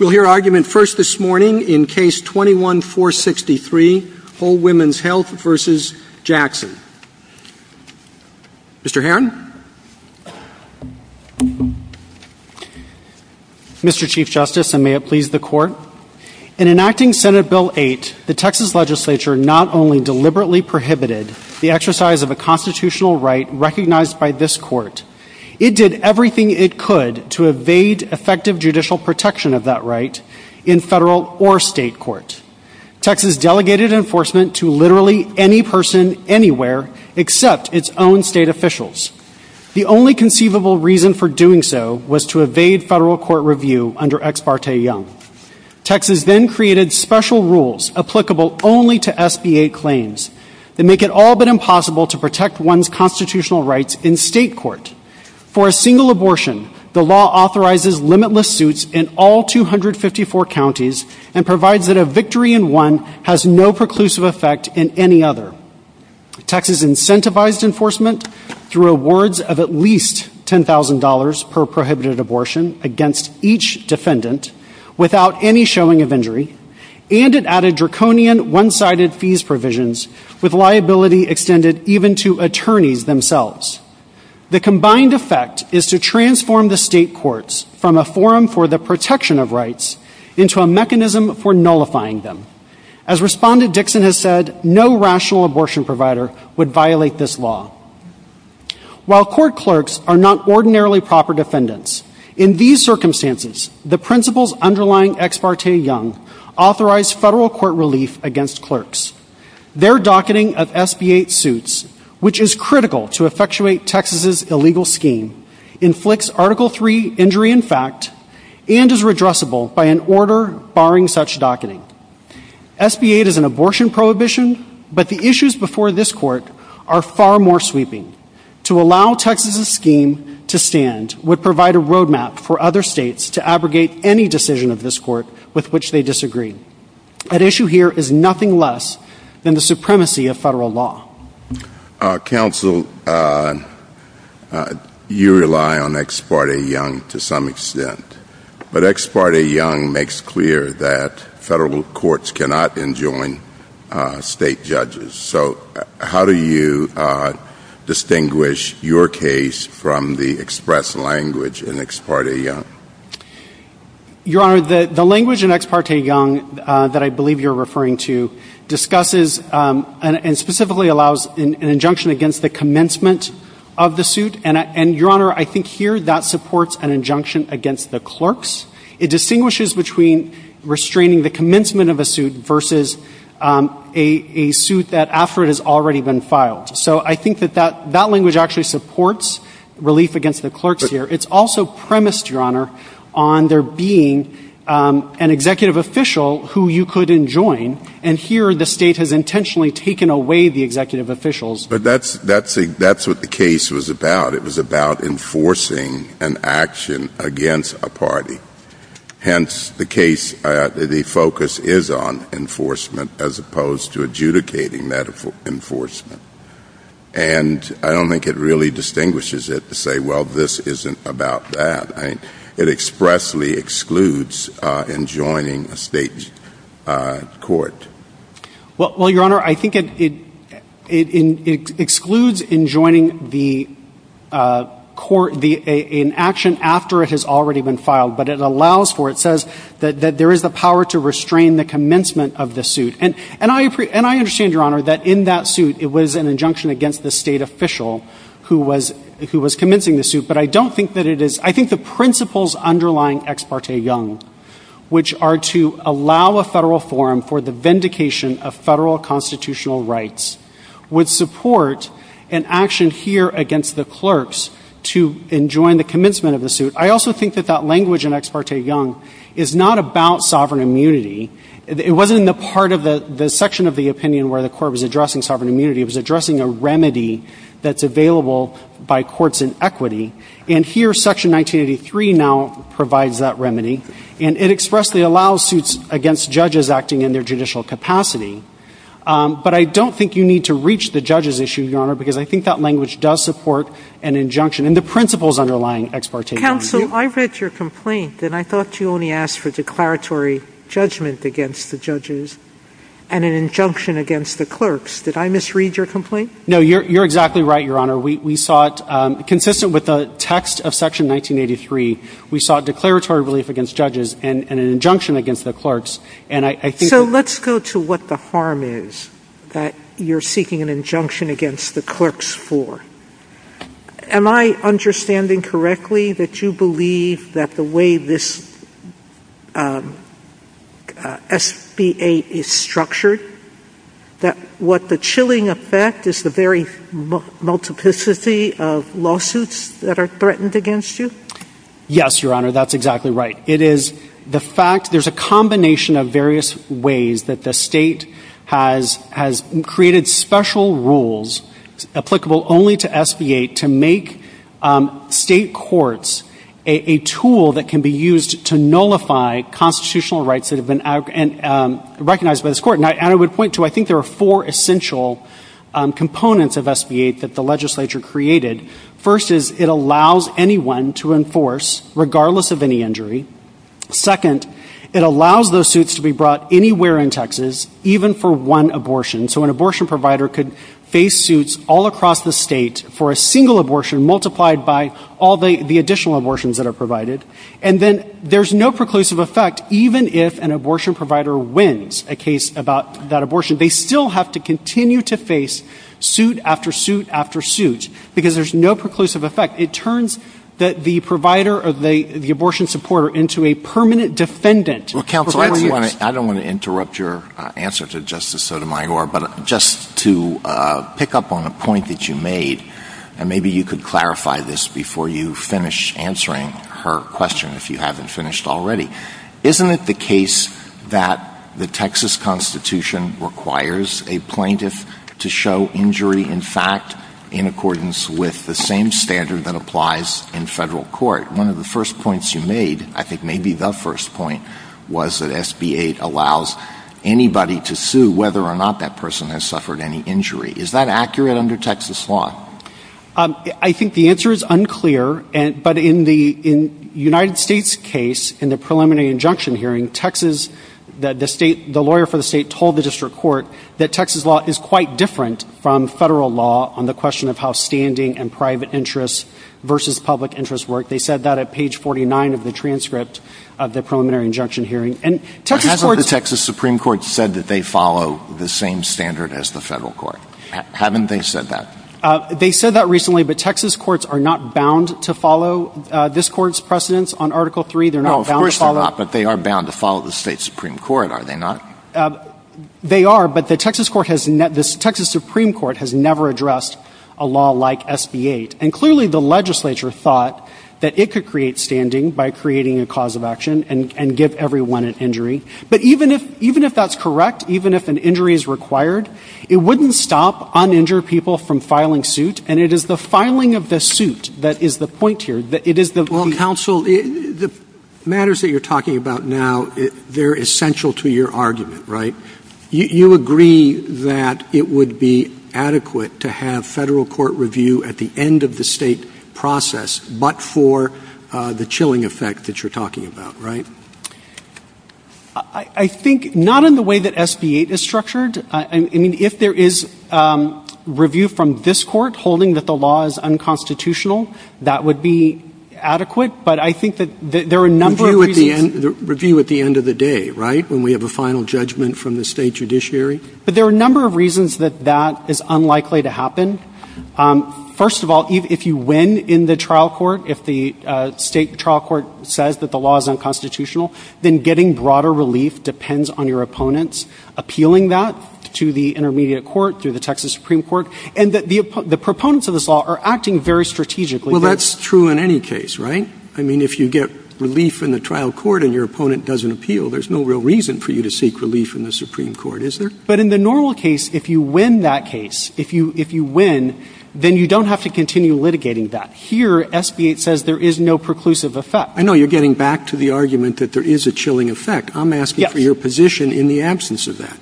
In enacting Senate Bill 8, the Texas Legislature not only deliberately prohibited the exercise of a constitutional right recognized by this Court, it did everything it could to evade effective judicial protection of that right in federal or state court. Texas delegated enforcement to literally any person, anywhere, except its own state officials. The only conceivable reason for doing so was to evade federal court review under Ex parte Young. Texas then created special rules applicable only to SBA claims that make it all but impossible to protect one's constitutional rights in state court. For a single abortion, the law authorizes limitless suits in all 254 counties and provides that a victory in one has no preclusive effect in any other. Texas incentivized enforcement through awards of at least $10,000 per prohibited abortion against each defendant without any showing of injury, and it added draconian one-sided fees provisions with liability extended even to attorneys themselves. The combined effect is to transform the state courts from a forum for the protection of rights into a mechanism for nullifying them. As Respondent Dixon has said, no rational abortion provider would violate this law. While court clerks are not ordinarily proper defendants, in these Their docketing of SBA suits, which is critical to effectuate Texas's illegal scheme, inflicts Article III injury in fact and is redressable by an order barring such docketing. SBA is an abortion prohibition, but the issues before this court are far more sweeping. To allow Texas's scheme to stand would provide a roadmap for other states to abrogate any decision of this court with which they disagree. At issue here is nothing less than the supremacy of federal law. Counsel, you rely on Ex parte Young to some extent, but Ex parte Young makes clear that federal courts cannot enjoin state judges, so how do you distinguish your case from the express language in Ex parte Young? Your Honor, the language in Ex parte Young that I believe you're referring to discusses and specifically allows an injunction against the commencement of the suit, and Your Honor, I think here that supports an injunction against the clerks. It distinguishes between restraining the commencement of a suit versus a suit that after it has already been filed. So I think that that language actually supports relief against the clerks here. It's also premised, Your Honor, on there being an executive official who you could enjoin, and here the state has intentionally taken away the executive officials. But that's what the case was about. It was about enforcing an action against a party. Hence the case, the focus is on enforcement as opposed to adjudicating that enforcement. And I don't think it really distinguishes it to say, well, this isn't about that. It expressly excludes enjoining a state court. Well, Your Honor, I think it excludes enjoining the court in action after it has already been filed, but it allows for it. It says that there is a power to restrain the commencement of the suit. And I understand, Your Honor, that in that suit it was an injunction against the state official who was commencing the suit, but I don't think that it is. I think the principles underlying Ex parte Young, which are to allow a federal forum for the vindication of federal constitutional rights, would support an action here against the clerks to enjoin the commencement of the suit. I also think that that language in Ex parte Young, it wasn't a part of the section of the opinion where the court was addressing sovereign immunity. It was addressing a remedy that's available by courts in equity. And here, Section 1983 now provides that remedy. And it expressly allows suits against judges acting in their judicial capacity. But I don't think you need to reach the judges issue, Your Honor, because I think that language does support an injunction. And the principles underlying Ex parte Young. Counsel, I read your complaint, and I thought you only asked for declaratory judgment against the judges and an injunction against the clerks. Did I misread your complaint? No, you're exactly right, Your Honor. We saw it consistent with the text of Section 1983. We saw declaratory relief against judges and an injunction against the clerks. And I think that So let's go to what the harm is that you're seeking an injunction against the clerks for. Am I understanding correctly that you believe that the way this SBA is structured, that what the chilling effect is the very multiplicity of lawsuits that are threatened against you? Yes, Your Honor, that's exactly right. It is the fact there's a combination of various ways that the state has created special rules applicable only to SBA to make state courts a tool that can be used to nullify constitutional rights that have been recognized by this court. And I would point to, I think there are four essential components of SBA that the legislature created. First is it allows anyone to enforce, regardless of any injury. Second, it allows those suits to be brought anywhere in Texas, even for one abortion. So an abortion provider could face suits all across the state for a single abortion multiplied by all the additional abortions that are provided. And then there's no preclusive effect, even if an abortion provider wins a case about that abortion. They still have to continue to face suit after suit after suit because there's no preclusive effect. It turns the provider or the abortion supporter into a permanent defendant. Counsel, I don't want to interrupt your answer to Justice Sotomayor, but just to pick up on a point that you made, and maybe you could clarify this before you finish answering her question if you haven't finished already. Isn't it the case that the Texas Constitution requires a plaintiff to show injury in fact in accordance with the same standard that SBA made? I think maybe the first point was that SBA allows anybody to sue whether or not that person has suffered any injury. Is that accurate under Texas law? I think the answer is unclear, but in the United States case, in the preliminary injunction hearing, Texas, the lawyer for the state told the district court that Texas law is quite different from federal law on the question of how standing and private interests versus public interests work. They said that at page 49 of the transcript of the preliminary injunction hearing. But hasn't the Texas Supreme Court said that they follow the same standard as the federal court? Haven't they said that? They said that recently, but Texas courts are not bound to follow this court's precedence on Article III. No, of course they're not, but they are bound to follow the state's Supreme Court, are they not? They are, but the Texas Supreme Court has never addressed a law like SBA. And clearly the legislature thought that it could create standing by creating a cause of action and give everyone an injury. But even if that's correct, even if an injury is required, it wouldn't stop uninjured people from filing suit, and it is the filing of the suit that is the point here. Well, counsel, the matters that you're talking about now, they're essential to your argument, right? You agree that it would be adequate to have federal court review at the end of the state process, but for the chilling effect that you're talking about, right? I think not in the way that SBA is structured. I mean, if there is review from this court holding that the law is unconstitutional, that would be adequate. But I think that there are a number of... Review at the end of the day, right? When we have a final judgment from the state judiciary. But there are a number of reasons that that is unlikely to happen. First of all, if you win in the trial court, if the state trial court says that the law is unconstitutional, then getting broader relief depends on your opponents appealing that to the intermediate court, to the Texas Supreme Court, and that the proponents of this law are acting very strategically. Well, that's true in any case, right? I mean, if you get relief in the trial court and your opponent doesn't appeal, there's no real reason for you to seek relief in the Supreme Court, is there? But in the normal case, if you win that case, if you win, then you don't have to continue litigating that. Here, SBA says there is no preclusive effect. I know you're getting back to the argument that there is a chilling effect. I'm asking for your position in the absence of that.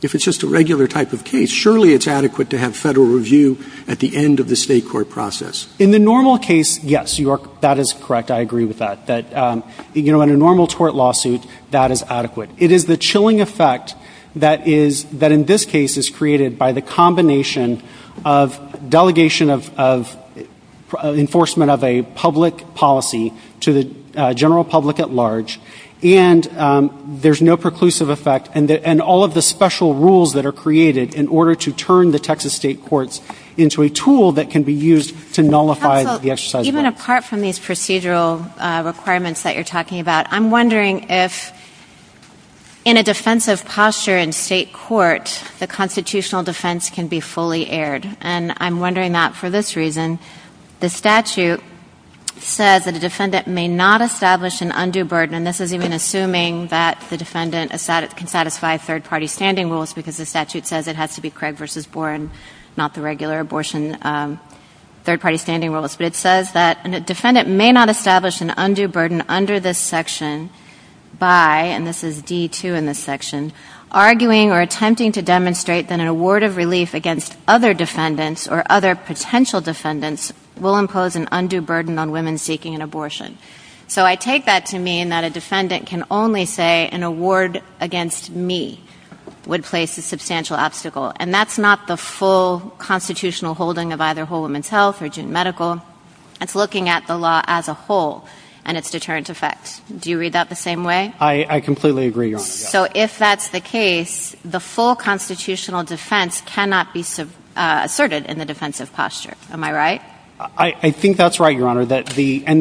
If it's just a regular type of case, surely it's adequate to have federal review at the end of the state court process. In the normal case, yes, that is correct. I agree with that. That, you know, in a normal court lawsuit, that is adequate. It is the chilling effect that is, that in this case is created by the combination of delegation of enforcement of a public policy to the general public at large, and there's no preclusive effect, and all of the special rules that are created in order to turn the Texas state courts into a tool that can be used to nullify the exercise. Even apart from these procedural requirements that you're talking about, I'm wondering if in a defensive posture in state court, the constitutional defense can be fully aired. And I'm wondering not for this reason. The statute says that a defendant may not establish an undue burden, and this is even assuming that the defendant can satisfy third-party standing rules because the statute says it has to be Craig v. Boren, not the regular abortion third-party standing rules, but it says that a defendant may not establish an undue burden under this section by, and this is D-2 in this section, arguing or attempting to demonstrate that an award of relief against other defendants or other potential defendants will impose an undue burden on women seeking an abortion. So I take that to mean that a defendant can only say an award against me would place a I think that's right, Your Honor. And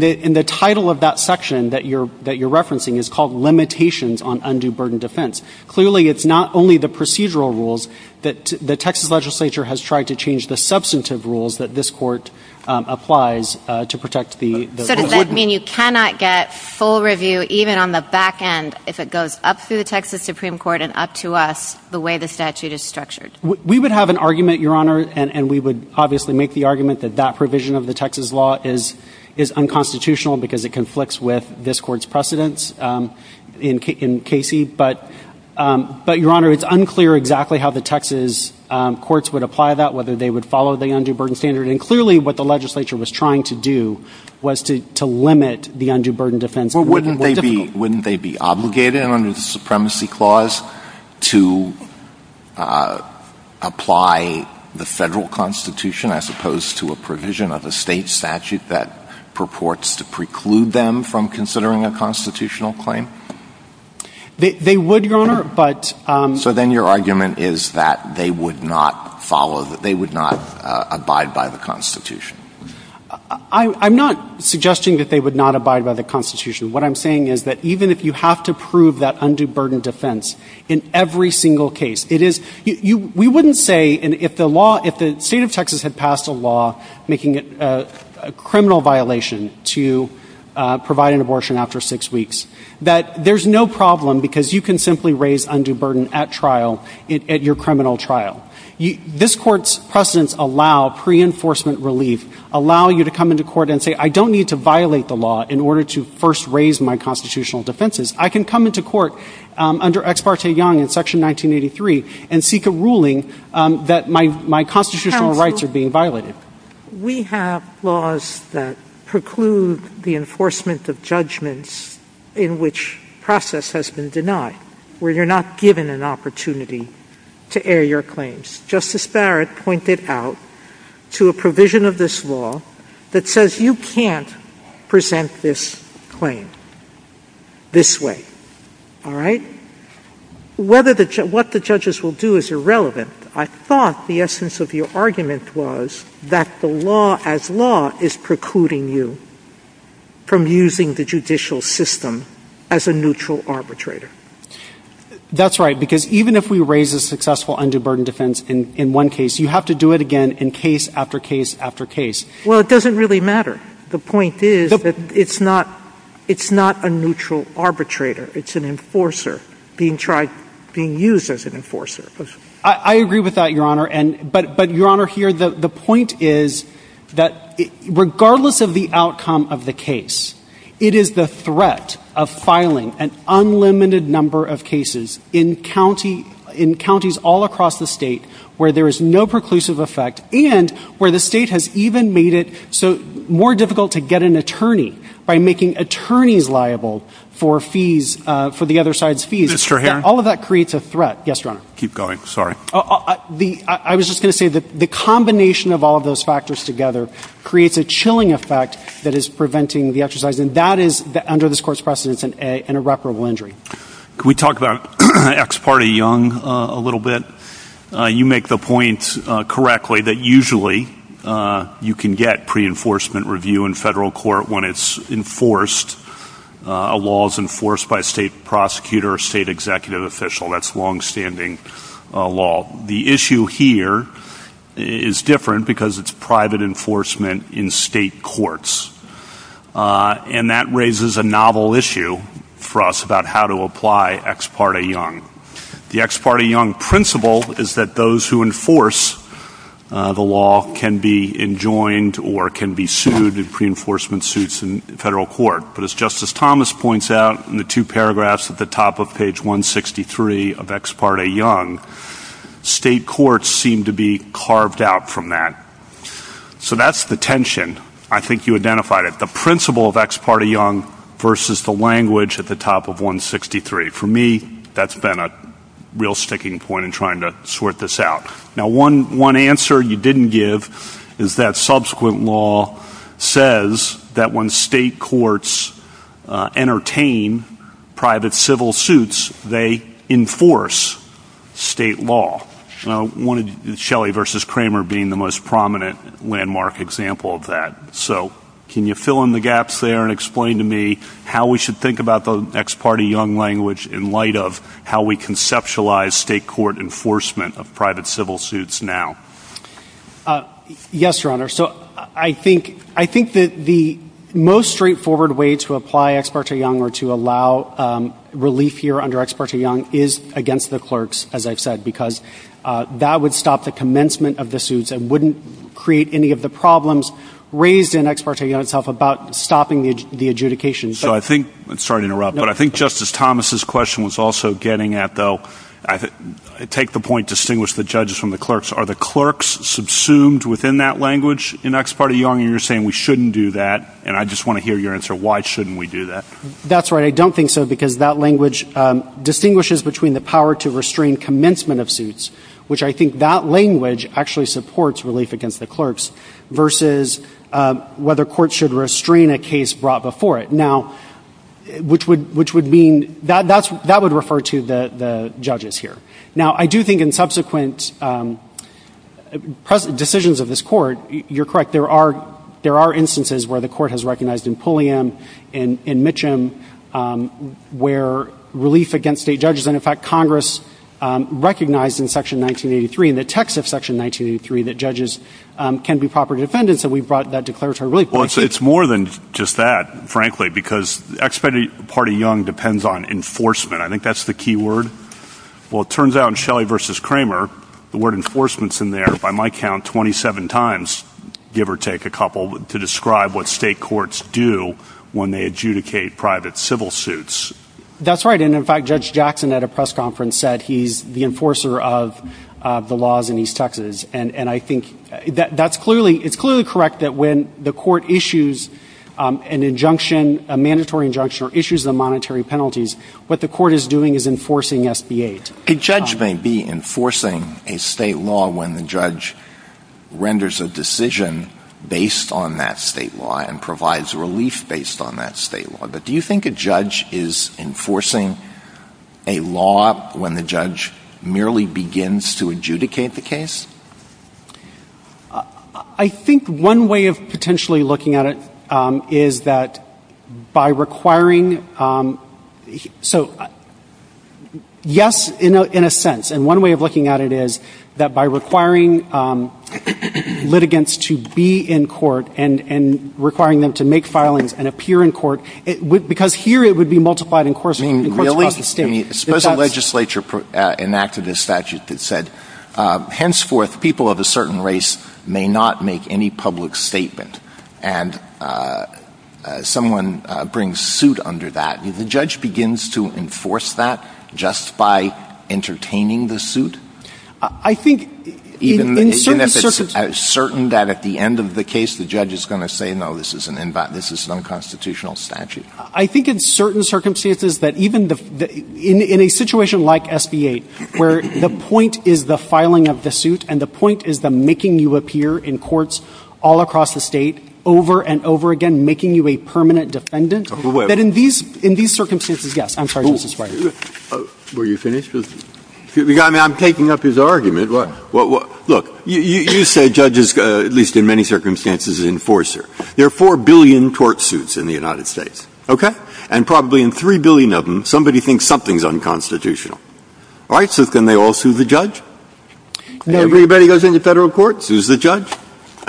the title of that section that you're referencing is called Limitations on Undue Burden Defense. Clearly, it's not only the procedural rules that the Texas legislature has tried to change the substantive rules that this court applies to protect the women. So does that mean you cannot get full review even on the back end if it goes up through the Texas Supreme Court and up to us the way the statute is structured? We would have an argument, Your Honor, and we would obviously make the argument that that provision of the Texas law is unconstitutional because it conflicts with this court's precedents in Casey. But, Your Honor, it's unclear exactly how the Texas courts would apply that, whether they would follow the undue burden standard. And clearly what the legislature was trying to do was to limit the undue burden defense. Wouldn't they be obligated under the Supremacy Clause to apply the federal constitution, as opposed to a provision of a state statute that purports to preclude them from considering a constitutional claim? They would, Your Honor. So then your argument is that they would not abide by the constitution? I'm not suggesting that they would not abide by the constitution. What I'm saying is that even if you have to prove that undue burden defense in every single case, we wouldn't say if the state of Texas had passed a law making it a criminal violation to provide an abortion after six weeks, that there's no problem because you can simply raise undue burden at trial, at your criminal trial. This court's precedents allow pre-enforcement relief, allow you to come into court and say, I don't need to violate the law in order to first raise my constitutional defenses. I can come into court under Ex parte Young in Section 1983 and seek a ruling that my constitutional rights are being violated. We have laws that preclude the enforcement of judgments in which process has been denied, where you're not given an opportunity to air your claims. Justice Barrett pointed out to a provision of this law that says you can't present this claim this way. All right? What the judges will do is irrelevant. I thought the essence of your argument was that the law as law is precluding you from using the judicial system as a neutral arbitrator. That's right, because even if we raise a successful undue burden defense in one case, you have to do it again in case after case after case. Well, it doesn't really matter. The point is that it's not a neutral arbitrator. It's an enforcer being used as an enforcer. I agree with that, Your Honor. But, Your Honor, here, the point is that regardless of the outcome of the case, it is the threat of filing an unlimited number of cases in counties all across the state where there is no preclusive effect and where the state has even made it so more difficult to get an attorney by making attorneys liable for the other side's fees. All of that creates a threat. I was just going to say that the combination of all of those factors together creates a chilling effect that is preventing the exercise, and that is under this Court's precedence an irreparable injury. Can we talk about ex parte Young a little bit? You make the point correctly that usually you can get pre-enforcement review in federal court when it's enforced, a law is enforced by a state prosecutor or state executive official. That's longstanding law. The issue here is different because it's private enforcement in state courts, and that raises a novel issue for us about how to apply ex parte Young. The ex parte Young principle is that those who enforce the law can be enjoined or can be sued in pre-enforcement suits in federal court. But as Justice Thomas points out in the two paragraphs at the top of page 163 of ex parte Young, state courts seem to be carved out from that. So that's the tension. I think you identified it. The principle of sticking point in trying to sort this out. One answer you didn't give is that subsequent law says that when state courts entertain private civil suits, they enforce state law. I don't want Shelley v. Kramer being the most prominent landmark example of that. Can you fill in the gaps there and explain to me how we should think about the ex parte Young language in light of how we conceptualize state court enforcement of private civil suits now? Yes, Your Honor. I think that the most straightforward way to apply ex parte Young or to allow relief here under ex parte Young is against the clerks, as I've said, because that would stop the commencement of the suits and wouldn't create any of the problems raised in ex parte Young itself about stopping the adjudication. Sorry to interrupt, but I think Justice Thomas' question was also getting at, though, take the point, distinguish the judges from the clerks. Are the clerks subsumed within that language in ex parte Young? You're saying we shouldn't do that, and I just want to hear your answer, why shouldn't we do that? That's right. I don't think so, because that language distinguishes between the power to restrain commencement of suits, which I think that language actually supports relief against the clerks, versus whether courts should restrain a case brought before it, which would mean that would refer to the judges here. Now I do think in subsequent decisions of this court, you're correct, there are instances where the court has recognized in Pulliam, in Mitcham, where relief against state judges and in fact Congress recognized in section 1983, in the text of section 1983, that judges can be proper defendants, so we brought that declaratory relief. Well, it's more than just that, frankly, because ex parte Young depends on enforcement. I think that's the key word. Well, it turns out in Shelley v. Kramer, the word enforcement's in there, by my count, 27 times, give or take a couple, to describe what state courts do when they adjudicate private civil suits. That's right, and in fact Judge Jackson at a press conference said he's the enforcer of the laws in East Texas, and I think that's clearly, it's clearly correct that when the court issues an injunction, a mandatory injunction, or issues a monetary penalty, what the court is doing is enforcing SBAs. A judge may be enforcing a state law when the judge renders a decision based on that state law and provides relief based on that state law, but do you think a judge is enforcing a law when the judge merely begins to adjudicate the case? I think one way of potentially looking at it is that by requiring, so yes, in a sense, and one way of looking at it is that by requiring litigants to be in court and requiring them to make filings and appear in court, because here it would be multiplied in courts across the state. Really? Suppose a legislature enacted a statute that said, henceforth, people of a certain race may not make any public statement, and someone brings suit under that. The judge begins to enforce that just by entertaining the suit? I think, in certain circumstances... Even if it's certain that at the end of the case the judge is going to say, no, this is an unconstitutional statute. I think in certain circumstances that even, in a situation like SBA, where the point is the filing of the suit and the point is the making you appear in courts all across the state, this is, yes. I'm sorry, Mr. Spicer. Were you finished? I'm taking up his argument. Look, you say judges, at least in many circumstances, enforcer. There are four billion court suits in the United States, okay? And probably in three billion of them, somebody thinks something's unconstitutional. All right, so can they all sue the judge? Anybody who goes into federal court sues the judge?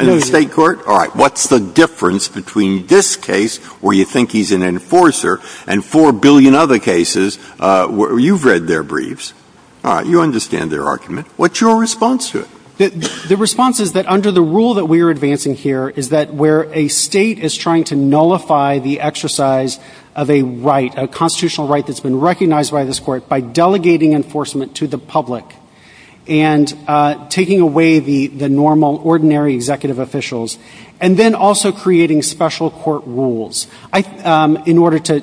In state court? All right, what's the response? Maybe in other cases, you've read their briefs. You understand their argument. What's your response to it? The response is that under the rule that we are advancing here is that where a state is trying to nullify the exercise of a right, a constitutional right that's been recognized by this court, by delegating enforcement to the public and taking away the normal, ordinary executive officials, and then also creating special court rules. In order to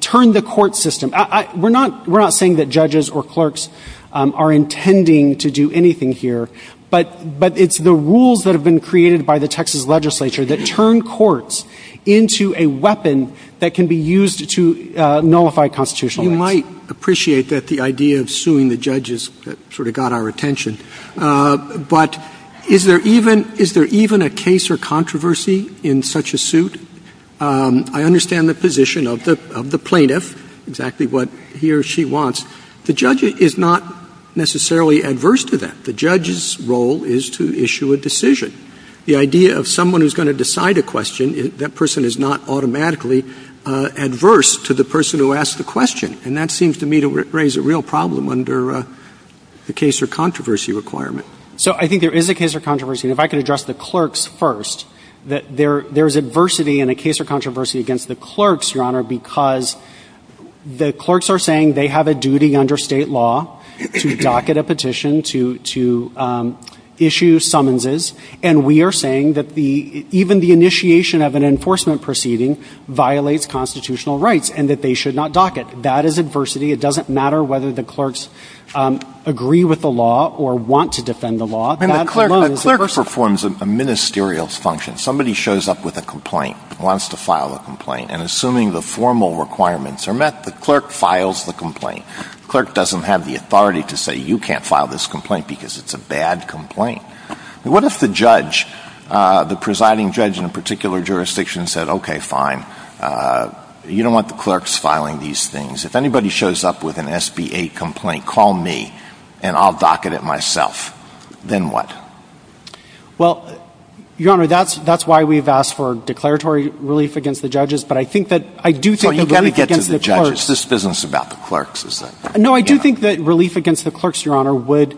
turn the court system, we're not saying that judges or clerks are intending to do anything here, but it's the rules that have been created by the Texas legislature that turn courts into a weapon that can be used to nullify constitutional rights. You might appreciate that, the idea of suing the judges that sort of got our attention, but is there even a case or controversy in such a suit? I understand the position of the plaintiff, exactly what he or she wants. The judge is not necessarily adverse to that. The judge's role is to issue a decision. The idea of someone who's going to decide a question, that person is not automatically adverse to the person who asked the question, and that seems to me to raise a real problem under the case or controversy requirement. So I think there is a case or controversy. If I could address the clerks first, that there is adversity in a case or controversy against the clerks, Your Honor, because the clerks are saying they have a duty under state law to docket a petition, to issue summonses, and we are saying that even the initiation of an enforcement proceeding violates constitutional rights, and that they should not docket. That is adversity. It doesn't matter whether the clerks agree with the law or want to defend the law. The clerk performs a ministerial function. Somebody shows up with a complaint, wants to file a complaint, and assuming the formal requirements are met, the clerk files the complaint. The clerk doesn't have the authority to say, you can't file this complaint because it's a bad complaint. What if the judge, the presiding judge in a particular jurisdiction said, okay, fine, you don't want the clerks filing these things. If anybody shows up with a complaint, what do you do? Well, Your Honor, that's why we've asked for declaratory relief against the judges, but I think that I do think that relief against the clerks... This isn't about the clerks, is it? No, I do think that relief against the clerks, Your Honor, would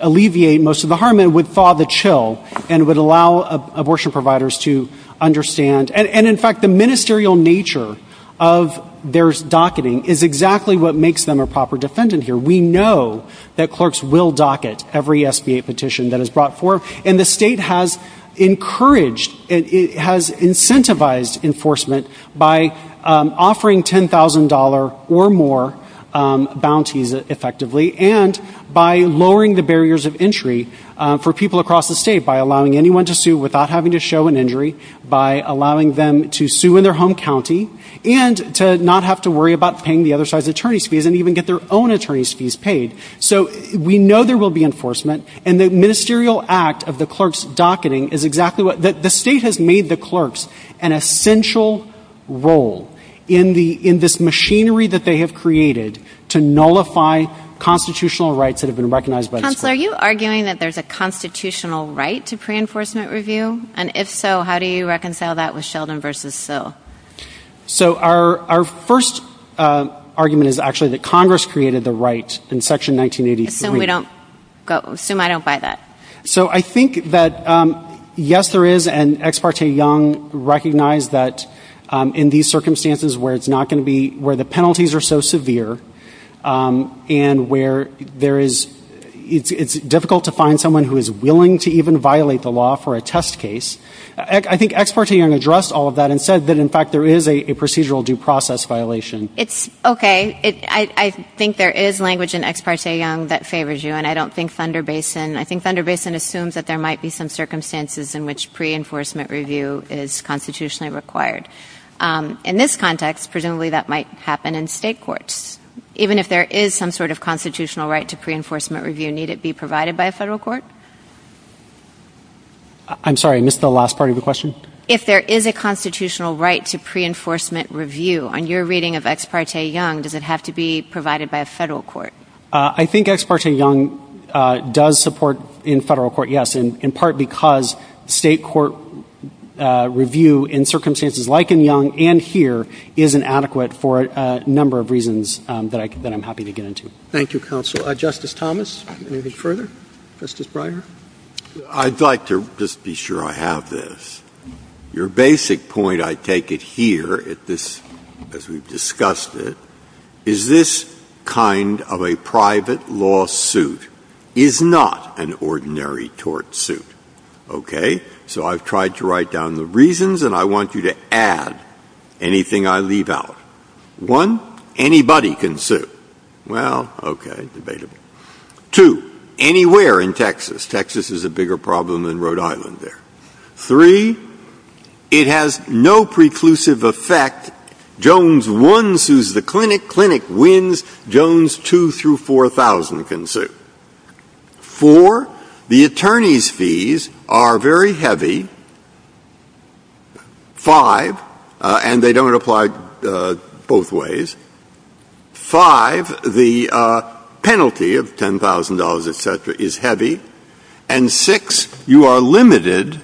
alleviate most of the harm and would thaw the chill and would allow abortion providers to understand, and in fact, the ministerial nature of their docketing is exactly what makes them a proper defendant here. We know that clerks will docket every SBA petition that is brought forward, and the state has encouraged, has incentivized enforcement by offering $10,000 or more bounties, effectively, and by lowering the barriers of entry for people across the state by allowing anyone to sue without having to show an injury, by allowing them to sue in their home county, and to not have to worry about paying the other side's attorney's fees and even get their own attorney's fees paid. So we know there will be enforcement, and the ministerial act of the clerks' docketing is exactly what... The state has made the clerks an essential role in this machinery that they have created to nullify constitutional rights that have been recognized by the state. Counselor, are you arguing that there's a constitutional right to pre-enforcement review? And if so, how do you reconcile that with Sheldon v. Sue? So our first argument is actually that Congress created the right in Section 1983. Assume we don't... Assume I don't buy that. So I think that, yes, there is, and Ex parte Young recognized that in these circumstances where it's not going to be... Where the penalties are so severe, and where there is... It's difficult to find someone who is willing to even violate the law for a test case. I think in fact there is a procedural due process violation. It's... Okay. I think there is language in Ex parte Young that favors you, and I don't think Thunder Basin... I think Thunder Basin assumes that there might be some circumstances in which pre-enforcement review is constitutionally required. In this context, presumably that might happen in state courts. Even if there is some sort of constitutional right to pre-enforcement review, need it be provided by a federal court? I'm sorry, I missed the last part of your question. If there is a constitutional right to pre-enforcement review, on your reading of Ex parte Young, does it have to be provided by a federal court? I think Ex parte Young does support in federal court, yes, in part because state court review in circumstances like in Young and here is inadequate for a number of reasons that I'm happy to get into. Thank you, Counsel. Justice Thomas, anything further? Justice Breyer? I'd like to just be sure I have this. Your basic point, I take it here, as we've discussed it, is this kind of a private lawsuit is not an ordinary tort suit. Okay? So I've tried to write down the reasons, and I want you to add anything I leave out. One, anybody can sue. Well, okay, debatable. Two, anywhere in Texas. Texas is a bigger problem than Rhode Island there. Three, it has no preclusive effect. Jones 1 sues the clinic, clinic wins, Jones 2 through 4000 can sue. Four, the attorney's fees are very heavy. Five, and they don't apply both ways. Five, the penalty of $10,000, et cetera, is heavy. And six, you are limited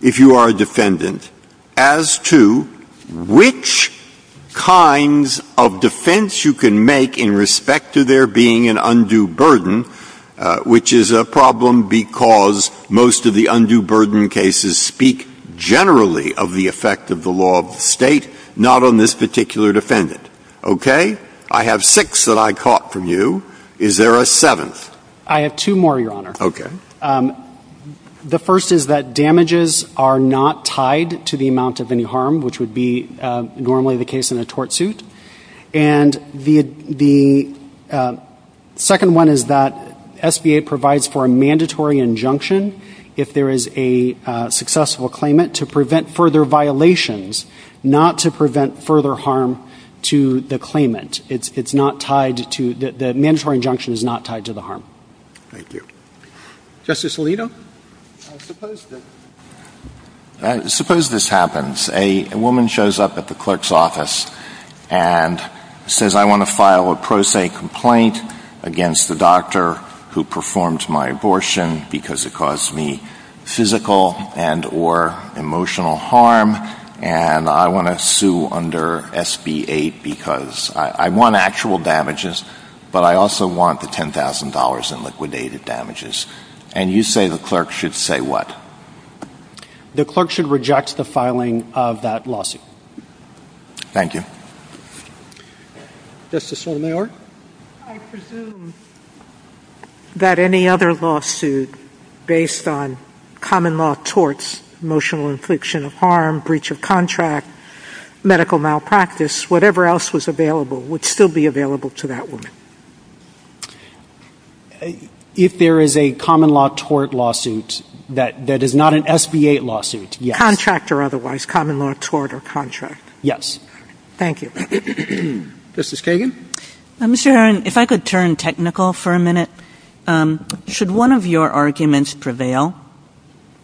if you are a defendant as to which kinds of defense you can make in respect to there being an undue burden, which is a problem because most of the undue burden cases speak generally of the effect of the law of the state, not on this particular defendant. Okay? I have six that I caught from you. Is there a seventh? I have two more, Your Honor. Okay. The first is that damages are not tied to the amount of any harm, which would be normally the case in a tort suit. And the second one is that SBA provides for a mandatory injunction if there is a successful claimant to prevent further violations, not to prevent further harm to the claimant. It's not tied to, the mandatory injunction is not tied to the harm. Thank you. Justice Alito? Suppose this happens. A woman shows up at the clerk's office and says I want to file a pro se complaint against the doctor who performed my abortion because it caused me physical and or emotional harm, and I want to sue under SB 8 because I want actual damages, but I also want the $10,000 in liquidated damages. And you say the clerk should say what? The clerk should reject the filing of that lawsuit. Thank you. Justice Kagan? If I could turn technical for a minute. Should one of your arguments be that the damages prevail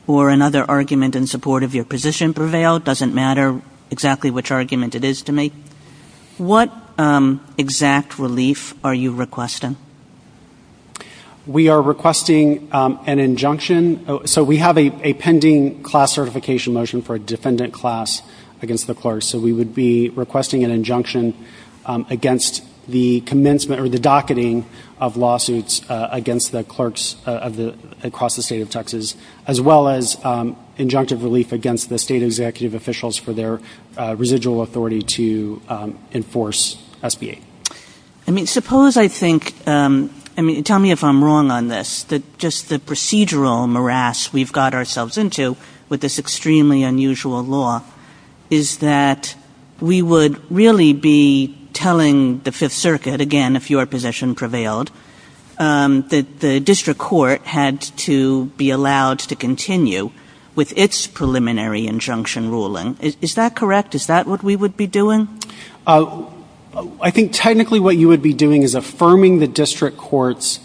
or another argument in support of your position prevail, it doesn't matter exactly which argument it is to me. What exact relief are you requesting? We are requesting an injunction. So we have a pending class certification motion for a defendant class against the clerk. So we would be requesting an injunction against the commencement or the end of the statute, as well as injunctive relief against the state executive officials for their residual authority to enforce SB 8. Tell me if I'm wrong on this. Just the procedural morass we've got ourselves into with this extremely unusual law is that we would really be telling the 5th Circuit, again if your position prevailed, that the district court had to be allowed to continue with its preliminary injunction ruling. Is that correct? Is that what we would be doing? I think technically what you would be doing is affirming the district court's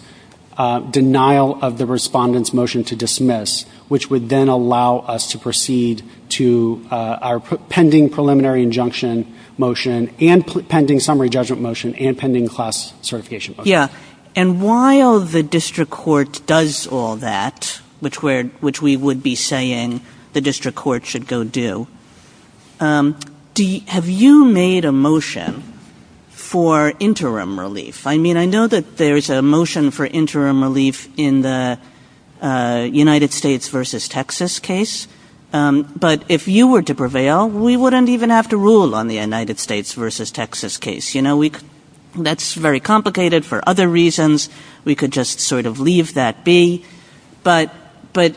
denial of the respondent's motion to dismiss, which would then allow us to proceed to our pending preliminary injunction motion and pending summary judgment motion and pending class certification motion. And while the district court does all that, which we would be saying the district court should go do, have you made a motion for interim relief? I mean I know that there's a motion for interim relief in the United States v. Texas case, but if you were to prevail, we wouldn't even have to rule on the United States v. Texas case. That's very complicated for other reasons. We could just sort of leave that be. But the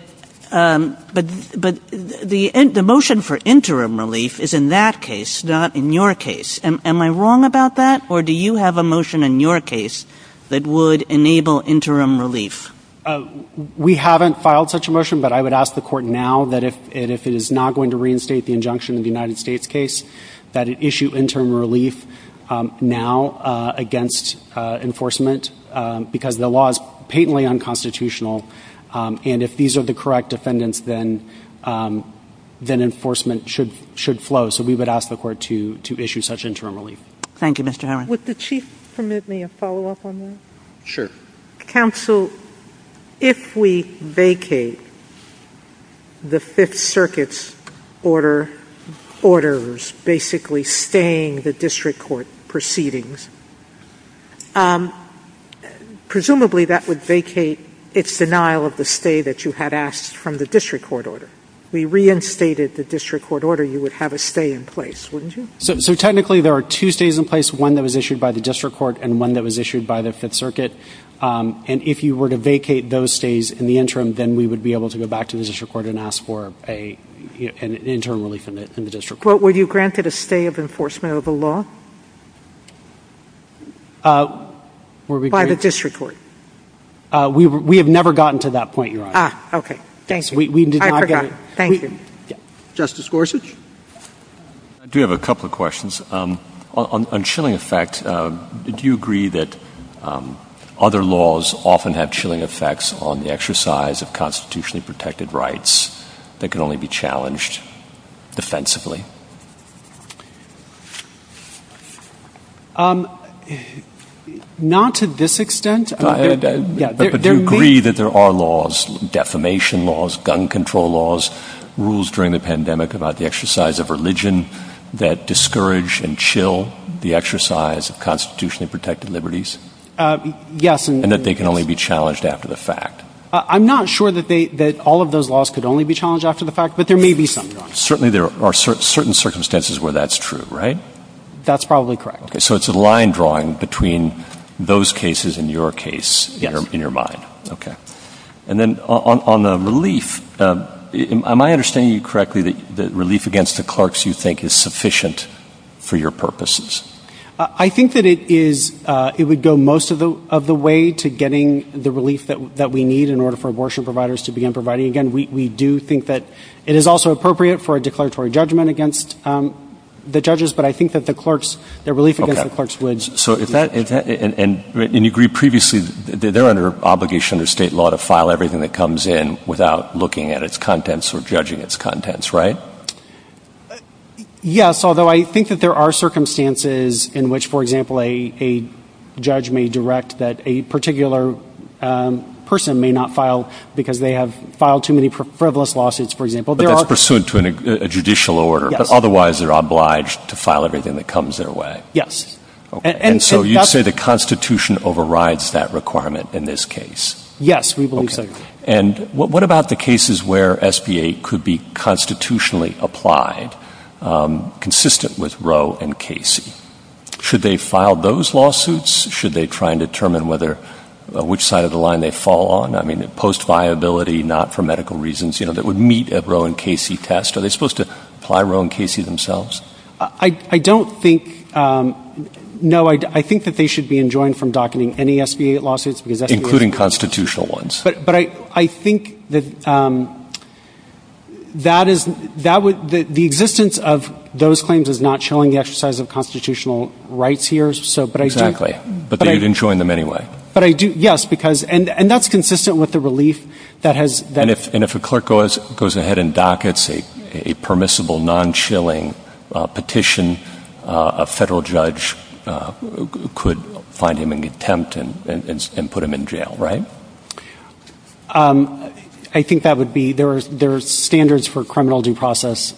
motion for interim relief is in that case, not in your case. Am I wrong about that? Or do you have a motion in your case that would enable interim relief? We haven't filed such a motion, but I would ask the court now that if it is not going to reinstate the injunction in the United States case, that it issue interim relief now against enforcement, because the law is patently unconstitutional. And if these are the correct defendants, then enforcement should flow. So we would ask the court to issue such interim relief. Thank you, Mr. Howard. Would the Chief permit me a follow-up on that? Sure. Counsel, if we vacate the Fifth Circuit's order, orders basically staying the district court proceedings, presumably that would vacate its denial of the stay that you had asked from the district court order. If we reinstated the district court order, you would have a stay in place, wouldn't you? So technically there are two stays in place, one that was issued by the district court and one that was issued by the Fifth Circuit. And if you were to vacate those stays in the interim, then we would be able to go back to the district court and ask for an interim relief in the district court. Were you granted a stay of enforcement of the law by the district court? We have never gotten to that point, Your Honor. Ah, okay. Thank you. I forgot. Thank you. Justice Gorsuch? I do have a couple of questions. On chilling effect, do you agree that other laws often have chilling effects on the exercise of constitutionally protected rights that can only be challenged defensively? Not to this extent. But do you agree that there are laws, defamation laws, gun control laws, rules during the pandemic about the exercise of religion that discourage and chill the exercise of constitutionally protected liberties? Yes. And that they can only be challenged after the fact? I'm not sure that all of those laws could only be challenged after the fact, but there may be some laws. Certainly there are certain circumstances where that's true, right? That's probably correct. Okay. So it's a line drawing between those cases and your case in your mind. Yes. And then on the relief, am I understanding you correctly that relief against the clerks you think is sufficient for your purposes? I think that it is, it would go most of the way to getting the relief that we need in order for abortion providers to begin providing again. We do think that it is also appropriate for a declaratory judgment against the judges, but I think that the clerks, their relief against the clerks would... So if that, and you agreed previously, they're under obligation or state law to file everything that comes in without looking at its contents or judging its contents, right? Yes. Although I think that there are circumstances in which, for example, a judge may direct that a particular person may not file because they have filed too many frivolous lawsuits, for example. But that's pursuant to a judicial order, but otherwise they're obliged to file everything that comes their way. Yes. And so you say the constitution overrides that requirement in this case? Yes, we believe so. And what about the cases where SBA could be constitutionally applied, consistent with Roe and Casey? Should they file those lawsuits? Should they try and determine whether, which side of the line they fall on? I mean, post-viability, not for medical reasons, you know, that would meet a Roe and Casey test. Are they supposed to apply Roe and Casey themselves? I don't think, no, I think that they should be enjoined from docketing any SBA lawsuits because SBA... Including constitutional ones. But I think that that is, that would, the existence of those claims is not showing the exercise of constitutional rights here, so, but I do... Exactly. But they've enjoined them anyway. But I do, yes, because, and that's consistent with the relief that has... And if a clerk goes ahead and dockets a permissible non-chilling petition, a federal judge could find him in contempt and put him in jail, right? I think that would be, there are standards for criminal due process,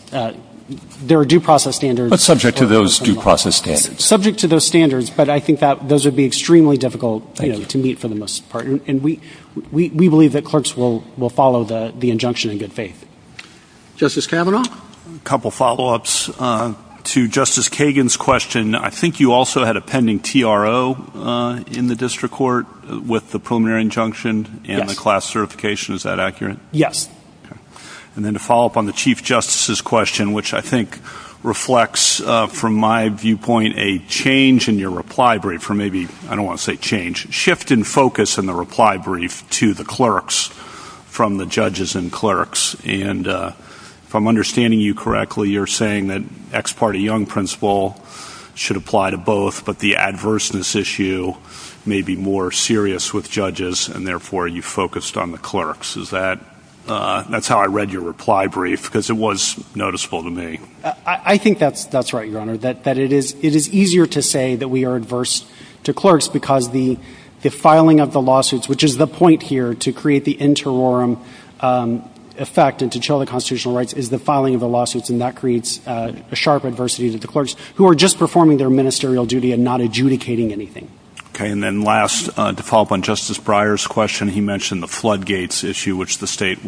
there are due process standards... But subject to those due process standards. Subject to those standards, but I think that those would be extremely difficult to meet for the most part, and we believe that clerks will follow the injunction in good faith. Justice Kavanaugh? Couple follow-ups to Justice Kagan's question. I think you also had a pending TRO in the district court with the preliminary injunction and the class certification, is that accurate? Yes. And then to follow up on the Chief Justice's question, which I think reflects from my viewpoint a change in your reply brief, or maybe, I don't want to say change, shift in focus in the reply brief to the clerks from the judges and clerks. And if I'm understanding you correctly you're saying that ex parte Young principle should apply to both, but the adverseness issue may be more serious with judges, and therefore you focused on the clerks. Is that, that's how I read your reply brief, because it was noticeable to me. I think that's right, Your Honor, that it is easier to say that we are adverse to clerks because the filing of the lawsuits, which is the point here to create the interim effect and to show the constitutional rights is the filing of the lawsuits, and that creates a sharp adversity to the clerks who are just performing their ministerial duty and not adjudicating anything. Okay, and then last, to follow up on Justice Breyer's question, he mentioned the floodgates issue which the state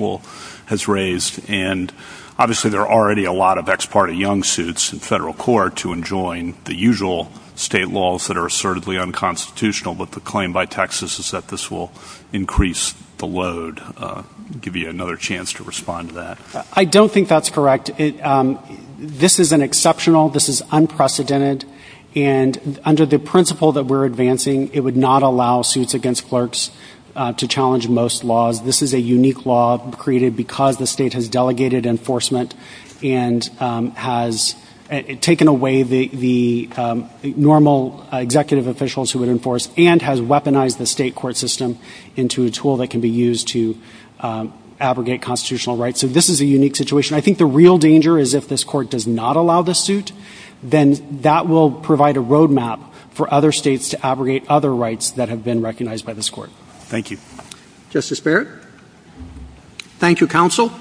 has raised, and obviously there are already a lot of ex parte Young suits in federal court to enjoin the usual state laws that are assertively unconstitutional, but the claim by Texas is that this will increase the load. I'll give you another chance to respond to that. I don't think that's correct. This is an exceptional, this is unprecedented, and under the principle that we're advancing, it would not allow suits against clerks to challenge most laws. This is a unique law created because the state has delegated enforcement and has taken away the normal executive officials who would enforce and has weaponized the state court system into a tool that can be used to abrogate constitutional rights, so this is a unique situation. I think the real danger is if this court does not allow the suit, then that will provide a road map for other states to abrogate other rights that have been recognized by this court. Thank you. Justice Barrett? Thank you, counsel.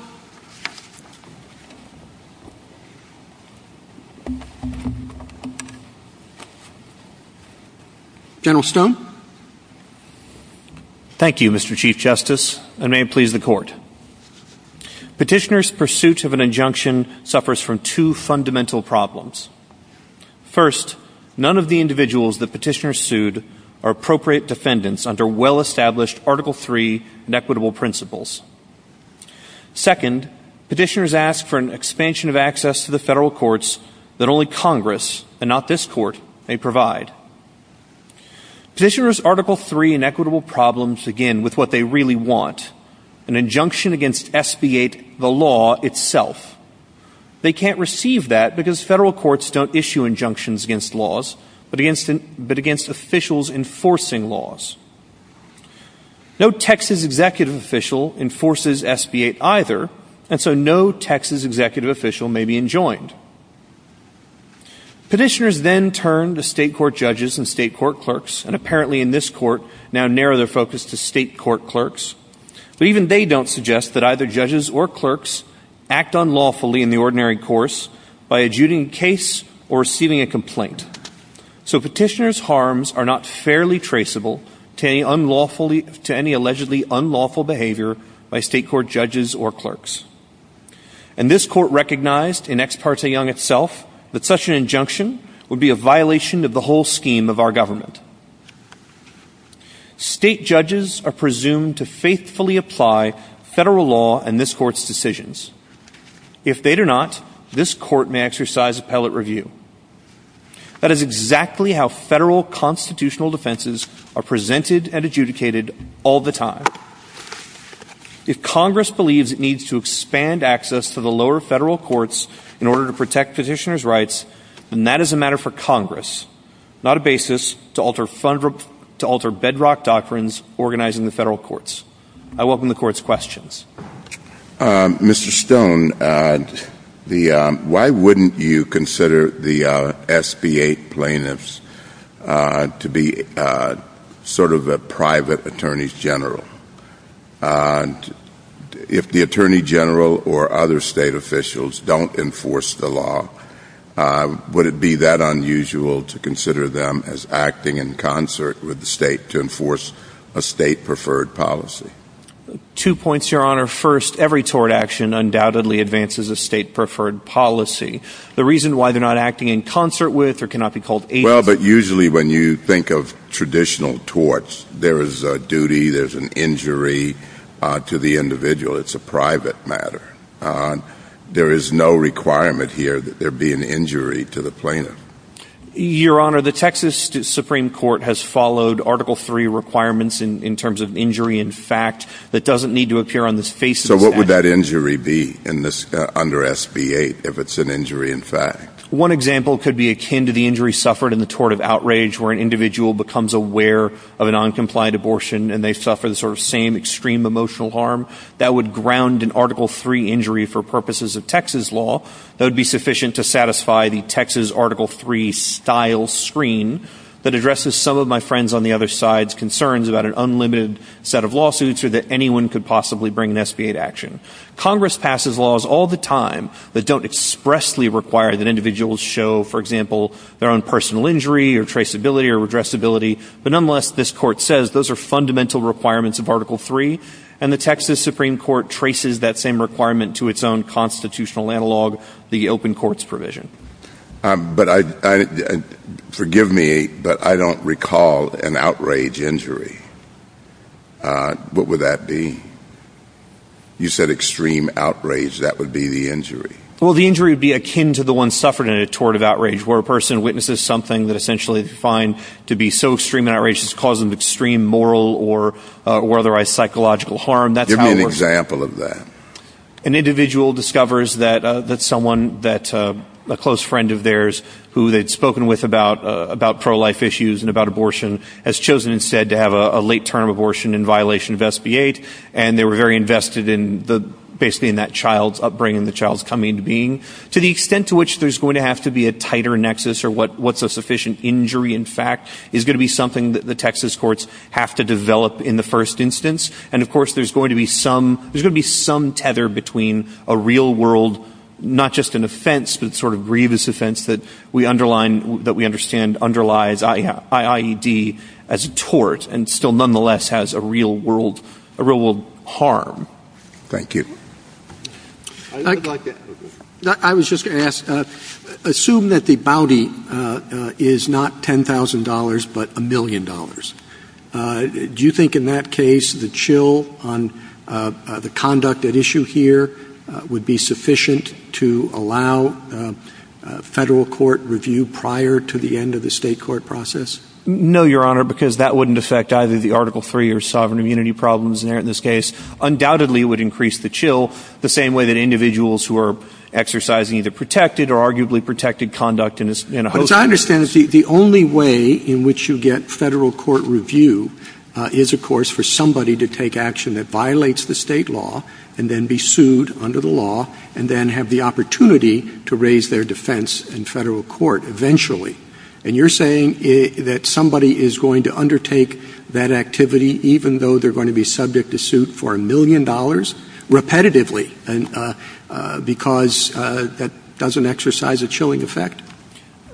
General Stone? Thank you, Mr. Chief Justice, and may it please the court. Petitioner's pursuit of an injunction suffers from two fundamental problems. First, none of the individuals the petitioner sued are appropriate defendants under well-established Article III inequitable principles. Second, petitioners ask for an expansion of access to the federal courts that only Congress, and not this court, may provide. Petitioners' Article III inequitable problems begin with what they really want, an injunction against SB-8, the law itself. They can't receive that because federal courts don't issue injunctions against laws, but against officials enforcing laws. No Texas executive official enforces SB-8 either, and so no Texas executive official may be enjoined. Petitioners then turn to state court judges and state court clerks, and apparently in this court now narrow their focus to state court clerks, but even they don't suggest that either judges or clerks act unlawfully in the ordinary course by adjudicating a case or receiving a complaint. So petitioners' harms are not fairly traceable to any allegedly unlawful behavior by state court judges or clerks. And this court recognized in Ex Parte Young itself that such an injunction would be a violation of the whole scheme of our government. State judges are presumed to faithfully apply federal law in this court's decisions. If they do not, this court may exercise appellate review. That is exactly how federal constitutional defenses are presented and adjudicated all the time. If Congress believes it needs to protect petitioners' rights, then that is a matter for Congress, not a basis to alter bedrock doctrines organizing the federal courts. I welcome the court's questions. Mr. Stone, why wouldn't you consider the SB-8 plaintiffs to be sort of a private attorney's general? If the attorney general or other state officials don't enforce the law, why would it be that unusual to consider them as acting in concert with the state to enforce a state-preferred policy? Two points, Your Honor. First, every tort action undoubtedly advances a state-preferred policy. The reason why they're not acting in concert with or cannot be called agent is because they're not a private entity. Well, but usually when you think of traditional torts, there is a duty, there's an injury to the individual. It's a private matter. There is no requirement here that there be an injury to the plaintiff. Your Honor, the Texas Supreme Court has followed Article III requirements in terms of injury in fact that doesn't need to appear on the face of the defendant. So what would that injury be under SB-8 if it's an injury in fact? One example could be akin to the injury suffered in the tort of outrage where an individual becomes aware of an uncomplied abortion and they suffer the sort of same extreme emotional harm. That would ground an Article III injury for purposes of Texas law. That would be sufficient to satisfy the Texas Article III style screen that addresses some of my friends' on the other side's concerns about an unlimited set of lawsuits or that anyone could possibly bring an SB-8 action. Congress passes laws all the time that don't expressly require that individuals show, for example, express ability. But nonetheless, this Court says those are fundamental requirements of Article III and the Texas Supreme Court traces that same requirement to its own constitutional analog, the open courts provision. Forgive me, but I don't recall an outrage injury. What would that be? You said extreme outrage. That would be the injury. Well, the injury would be akin to the one suffered in a tort of outrage where a person witnesses something that essentially is defined to be so extreme an outrage it's causing extreme moral or otherwise psychological harm. Give me an example of that. An individual discovers that a close friend of theirs who they'd spoken with about pro-life issues and about abortion has chosen instead to have a late-term abortion in violation of SB-8 and they were very invested basically in that child's upbringing, the child's coming into being. To the extent to which there's going to have to be a tighter nexus or what's a sufficient injury in fact is going to be something that the Texas courts have to develop in the first instance. And of course, there's going to be some tether between a real world, not just an offense, but sort of grievous offense that we underline, that we understand underlies IID as a tort and still nonetheless has a real world harm. Thank you. I was just going to ask, assume that the bounty is not $10,000 but a million dollars. Do you think in that case the chill on the conduct at issue here would be sufficient to allow federal court review prior to the end of the state court process? No, Your Honor, because that wouldn't affect either the Article III or sovereign immunity problems in this case. Undoubtedly, it would increase the chill the same way that individuals who are exercising either protected or arguably protected conduct in a host country. As I understand it, the only way in which you get federal court review is of course for somebody to take action that violates the state law and then be sued under the law and then have the opportunity to raise their defense in federal court eventually. And you're saying that somebody is going to undertake that activity even though they're going to be subject to suit for a million dollars repetitively because that doesn't exercise a chilling effect?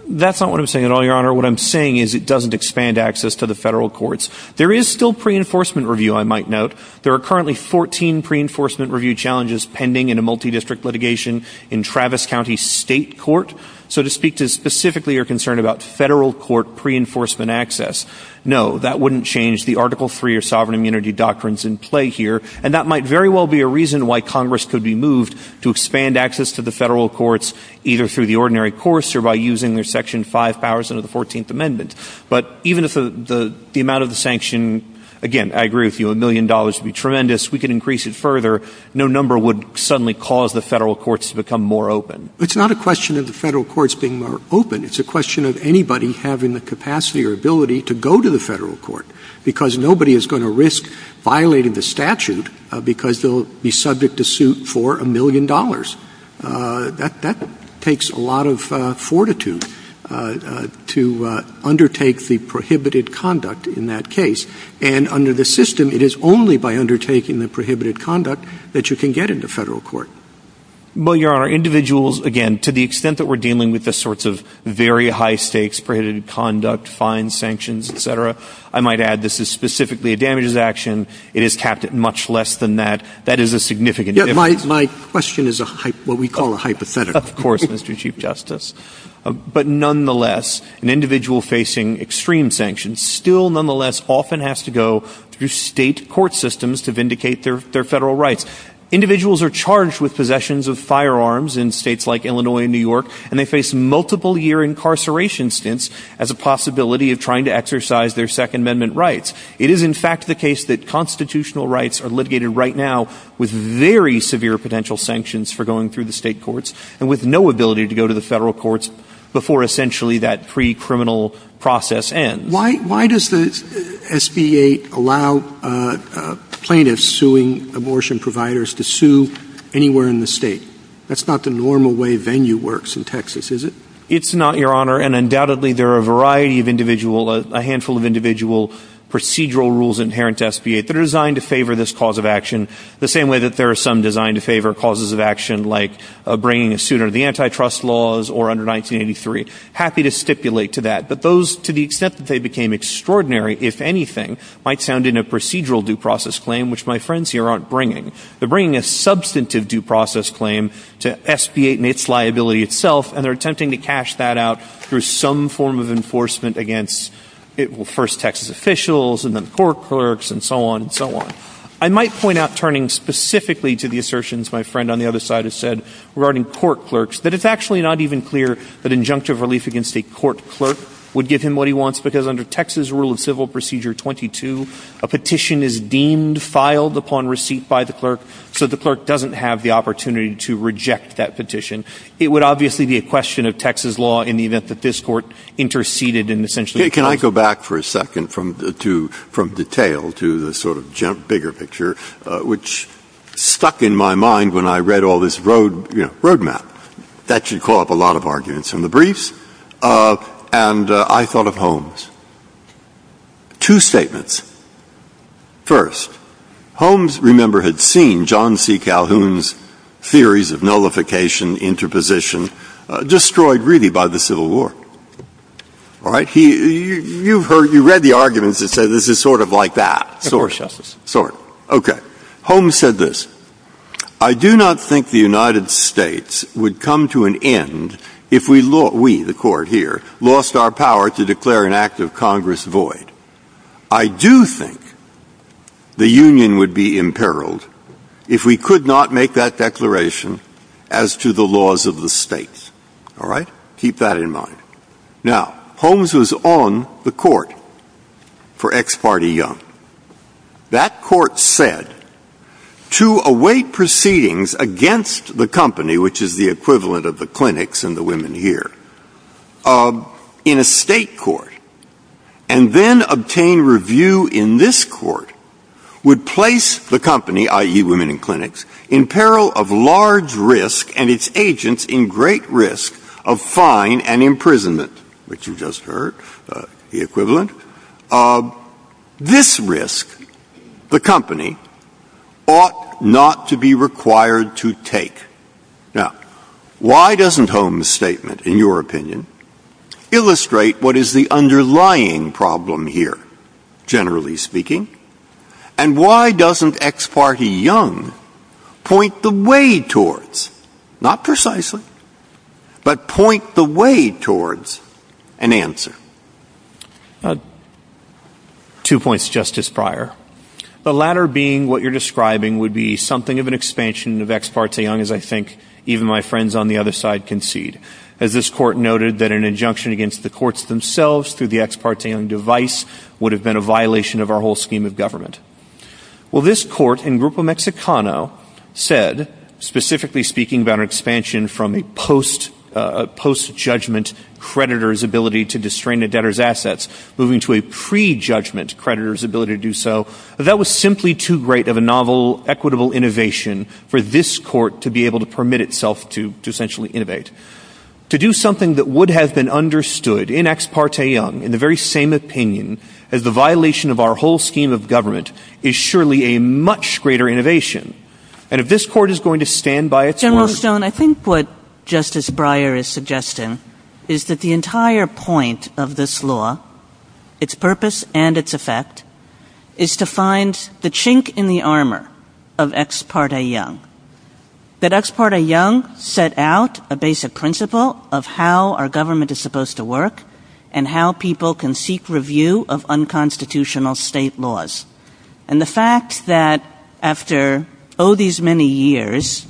That's not what I'm saying at all, Your Honor. What I'm saying is it doesn't expand access to the federal courts. There is still pre-enforcement review, I might note. There are currently fourteen pre-enforcement review challenges pending in a multi-district litigation in the United States. So I'm not saying that you can't have federal court pre-enforcement access. No, that wouldn't change the Article III or sovereign immunity doctrines in play here. And that might very well be a reason why Congress could be moved to expand access to the federal courts either through the ordinary courts or by using their Section 5000 of the Fourteenth Amendment. But even if the amount of the sanction, again, I agree with you, a million dollars would be tremendous. We could increase it further. No number would suddenly cause the federal courts to become more open. It's not a question of the federal courts being more open. It's a question of anybody having the capacity or ability to go to the federal court because nobody is going to risk violating the statute because they'll be subject to suit for a million dollars. That takes a lot of fortitude to undertake the prohibited conduct in that case. And under the system, it is only by undertaking the prohibited conduct that you can get into federal court. Well, Your Honor, individuals, again, to the extent that we're dealing with the sorts of very high stakes, prohibited conduct, fine sanctions, et cetera, I might add this is specifically a damages action. It is capped at much less than that. That is a significant My question is what we call a hypothetical. Of course, Mr. Chief Justice. But nonetheless, an individual facing extreme sanctions still nonetheless often has to go through state court systems to vindicate their federal rights. Individuals are charged with possessions of firearms in states like Illinois and New York, and they face multiple year incarceration stints as a possibility of trying to exercise their Second Amendment rights. It is in fact the case that constitutional rights are litigated right now with very severe potential sanctions for going through the state courts and with no ability to go to the federal courts before essentially that pre-criminal process ends. Why does the SBA allow plaintiffs suing abortion providers to sue anywhere in the state? That's not the normal way venue works in Texas, is it? It's not, Your Honor, and undoubtedly there are a variety of individual, a handful of individual procedural rules inherent to SBA that are designed to favor this cause of action the same way that there are some designed to favor causes of action like bringing a suit under the antitrust laws or under 1983. Happy to stipulate to that. But those, to the extent that they became extraordinary, if anything, might sound in a procedural due process claim, which my friends here aren't bringing. They're bringing a substantive due process claim to SBA and its liability itself, and they're attempting to cash that out through some form of enforcement against first Texas officials and then court clerks and so on and so on. I might point out, turning specifically to the assertions my friend on the other side has said regarding court clerks, that it's actually not even clear that injunctive relief against a court clerk would give him what he wants, because under Texas Rule of Civil Procedure 22, a petition is deemed, filed upon receipt by the clerk, so the clerk doesn't have the opportunity to reject that petition. It would obviously be a question of Texas law in the event that this court interceded and essentially... Can I go back for a second from detail to the sort of bigger picture, which stuck in my mind when I read all this roadmap. That should call up a lot of arguments. From the beginning, and I thought of Holmes. Two statements. First, Holmes, remember, had seen John C. Calhoun's theories of nullification, interposition, destroyed really by the Civil War. You read the arguments and said this is sort of like that. Holmes said this, I do not think the court here lost our power to declare an act of Congress void. I do think the union would be imperiled if we could not make that declaration as to the laws of the states. All right? Keep that in mind. Now, Holmes was on the court for ex parte young. That court said to await proceedings against the company, which is the equivalent of the clinics and the women here, in a state court, and then obtain review in this court, would place the company, i.e. women in clinics, in peril of large risk and its agents in great risk of fine and imprisonment, which you just heard, the equivalent. This risk, the company, ought not to be required to take. Now, why doesn't Holmes' statement, in your opinion, illustrate what is the underlying problem here, generally speaking? And why doesn't ex parte young point the way towards, not precisely, but point the way towards an answer? Two points, Justice Breyer. The latter being what you're describing would be something of an expansion of ex parte young, as I think even my friends on the other side concede, as this court noted that an injunction against the courts themselves through the ex parte young device would have been a violation of our whole scheme of speaking about an expansion from a post-judgment creditor's ability to disdrain a debtor's assets, moving to a pre-judgment creditor's ability to do so. That was simply too great of a novel, equitable innovation for this court to be able to permit itself to essentially innovate. To do something that would have been understood in ex parte young, in the very same opinion, as a violation of our whole scheme of government, is surely a much greater innovation. And if this court is going to stand by its word... General Stone, I think what Justice Breyer is suggesting is that the entire point of this law, its purpose and its effect, is to find the chink in the armor of ex parte young. That ex parte young set out a basic principle of how our government is supposed to work, and how people can seek review of unconstitutional state laws. And the fact that after, oh, these many years,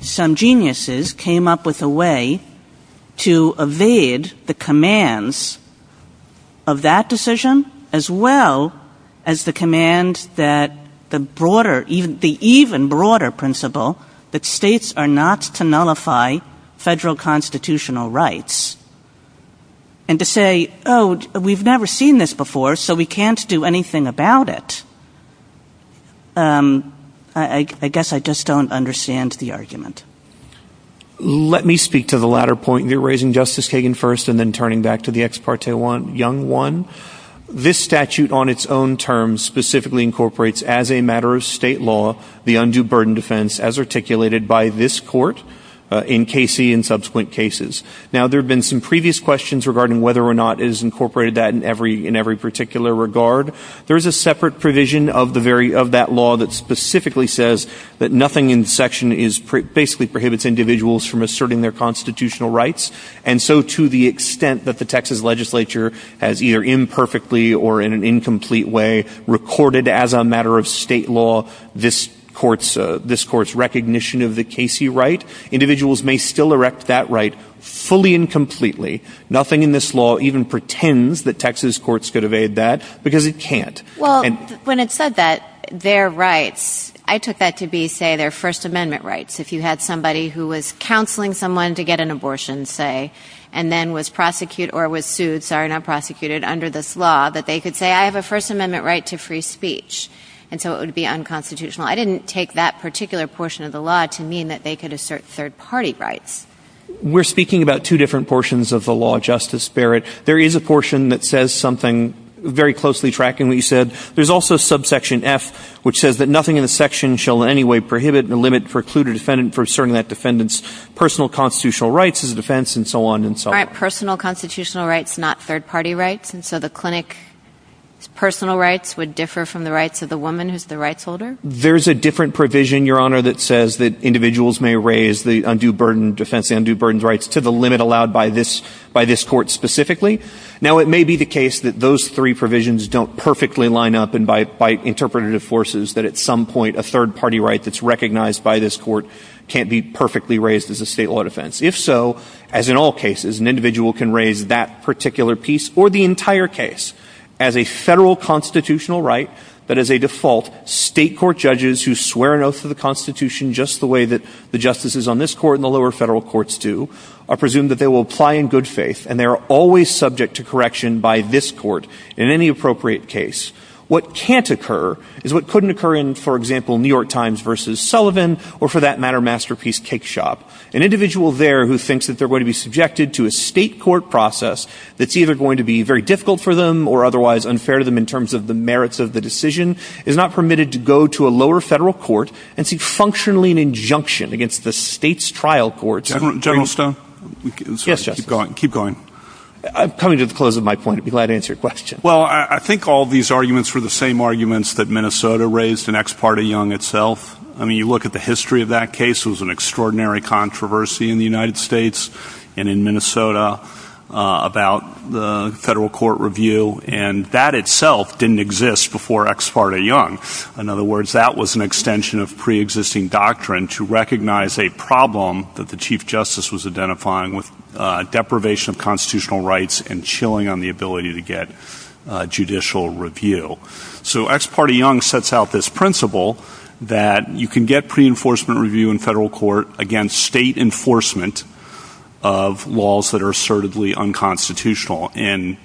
some geniuses came up with a way to evade the commands of that decision, as well as the command that the broader, even the even broader principle that states are not to nullify federal constitutional rights. And to say, oh, we've never seen this before, so we can't do anything about it. I guess I just don't understand the argument. Let me speak to the latter point. You're raising Justice Kagan first, and then turning back to the ex parte young one. This statute on its own terms specifically incorporates as a matter of state law, the undue burden defense as articulated by this court in KC and subsequent cases. Now, there have been some previous questions regarding whether or not it has incorporated that in every particular regard. There's a separate provision of that law that specifically says that nothing in section basically prohibits individuals from asserting their constitutional rights. And so to the extent that the Texas legislature has either imperfectly or in an incomplete way recorded as a matter of state law this court's recognition of the KC right, individuals may still erect that right fully and completely. Nothing in this law even pretends that Texas courts could evade that, because it can't. Well, when it said that, their rights, I took that to be, say, their First Amendment rights. If you had somebody who was counseling someone to get an abortion, say, and then was prosecuted or was sued, sorry, not prosecuted under this law, that they could say, I have a First Amendment right to free speech. And so it would be unconstitutional. I didn't take that particular portion of the law to mean that they could assert third party rights. We're speaking about two different portions of the law, Justice Barrett. There is a portion that says something very closely tracking what you said. There's also subsection F, which says that nothing in the section shall in any way prohibit the limit precluded defendant for certain that defendant's personal constitutional rights as a defense and so on and so on. Personal constitutional rights, not third party rights. And so the clinic's personal rights would differ from the rights of the woman who's the rights holder? There's a different provision, Your Honor, that says that individuals may raise the undue burden rights to the limit allowed by this court specifically. Now, it may be the case that those three provisions don't perfectly line up and bite interpretative forces that at some point, a third party right that's recognized by this court can't be perfectly raised as a state law defense. If so, as in all cases, an individual can raise that particular piece or the entire case as a federal constitutional right, but as a default, state court judges who swear an oath of the constitution just the way that the justices on this court and the lower federal courts do are presumed that they will apply in good faith and they're always subject to correction by this court in any appropriate case. What can't occur is what couldn't occur in, for example, New York Times versus Sullivan or for that matter, Masterpiece Cake Shop. An individual there who thinks that they're going to be subjected to a state court process that's either going to be very difficult for them or otherwise unfair to them in terms of the merits of the decision is not permitted to go to a lower federal court and seek functionally an injunction against the state's trial court. Keep going. I'm coming to the close of my point. I'd be glad to answer your question. Well, I think all these arguments were the same arguments that Minnesota raised in Ex parte Young itself. I mean, you look at the history of that case, it was an extraordinary controversy in the United States and in Minnesota about the federal court review. And that itself didn't exist before Ex parte Young. In other words, that was an extension of pre-existing doctrine to recognize a problem that the chief justice was identifying with deprivation of constitutional rights and chilling on the ability to get judicial review. So Ex parte Young sets out this principle that you can get pre-enforcement review in federal court against state enforcement of laws that are assertively unconstitutional. And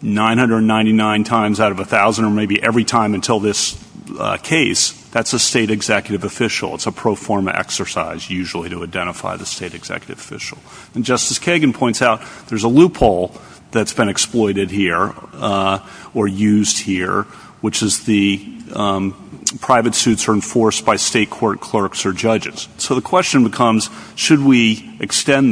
999 times out of a thousand or maybe every time until this case, that's a state executive official. It's a pro forma exercise usually to identify the state executive official. And Justice Kagan points out there's a loophole that's been exploited here or used here, which is the private suits are enforced by state court clerks or extend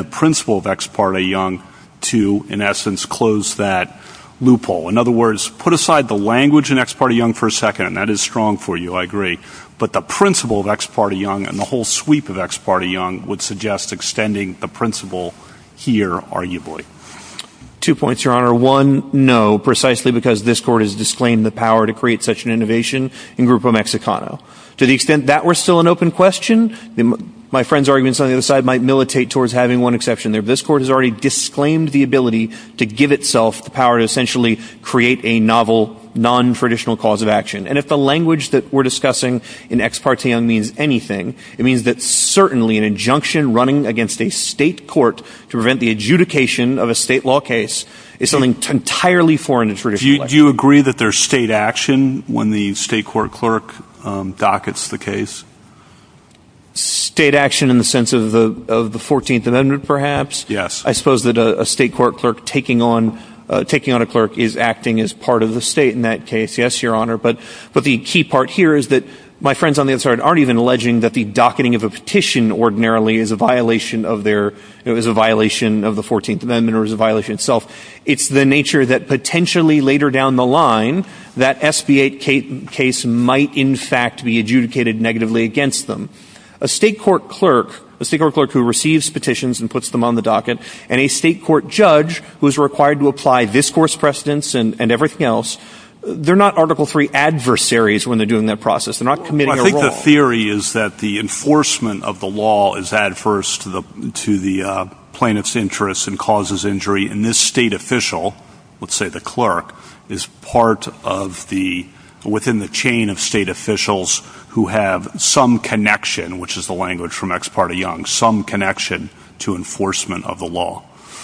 the principle of Ex parte Young to, in essence, close that loophole. In other words, put aside the language in Ex parte Young for a second. And that is strong for you. I agree. But the principle of Ex parte Young and the whole sweep of Ex parte Young would suggest extending the principle here, arguably. Two points, Your Honor. One, no, precisely because this court has disclaimed the power to create such an innovation in Grupo Mexicano. To the extent that we're still an open question, my friend's arguments on the other side might militate towards having one exception there. This court has already disclaimed the ability to give itself the power to essentially create a novel, non-traditional cause of action. And if the language that we're discussing in Ex parte Young means anything, it means that certainly an injunction running against a state court to prevent the adjudication of a state law case is something entirely foreign. Do you agree that there's state action when the state court clerk dockets the case? State action in the sense of the 14th Amendment, perhaps? Yes. I suppose that a state court clerk taking on a clerk is acting as part of the state in that case. Yes, Your Honor. But the key part here is that my friends on the other side aren't even alleging that the docketing of a petition ordinarily is a violation of the 14th Amendment or is a violation itself. It's the nature that potentially later down the line that SB8 case might in fact be adjudicated negatively against them. A state court clerk, a state court clerk who receives petitions and puts them on the docket, and a state court judge who is required to apply discourse precedence and everything else, they're not article-free adversaries when they're doing that process. They're not committing a wrong. Well, I think the theory is that the enforcement of the law is adverse to the plaintiff's interests and causes injury, and this state official, let's say the clerk, is part of the, within the chain of state officials who have some connection, which is the language from Ex parte Young, some connection to enforcement of the law.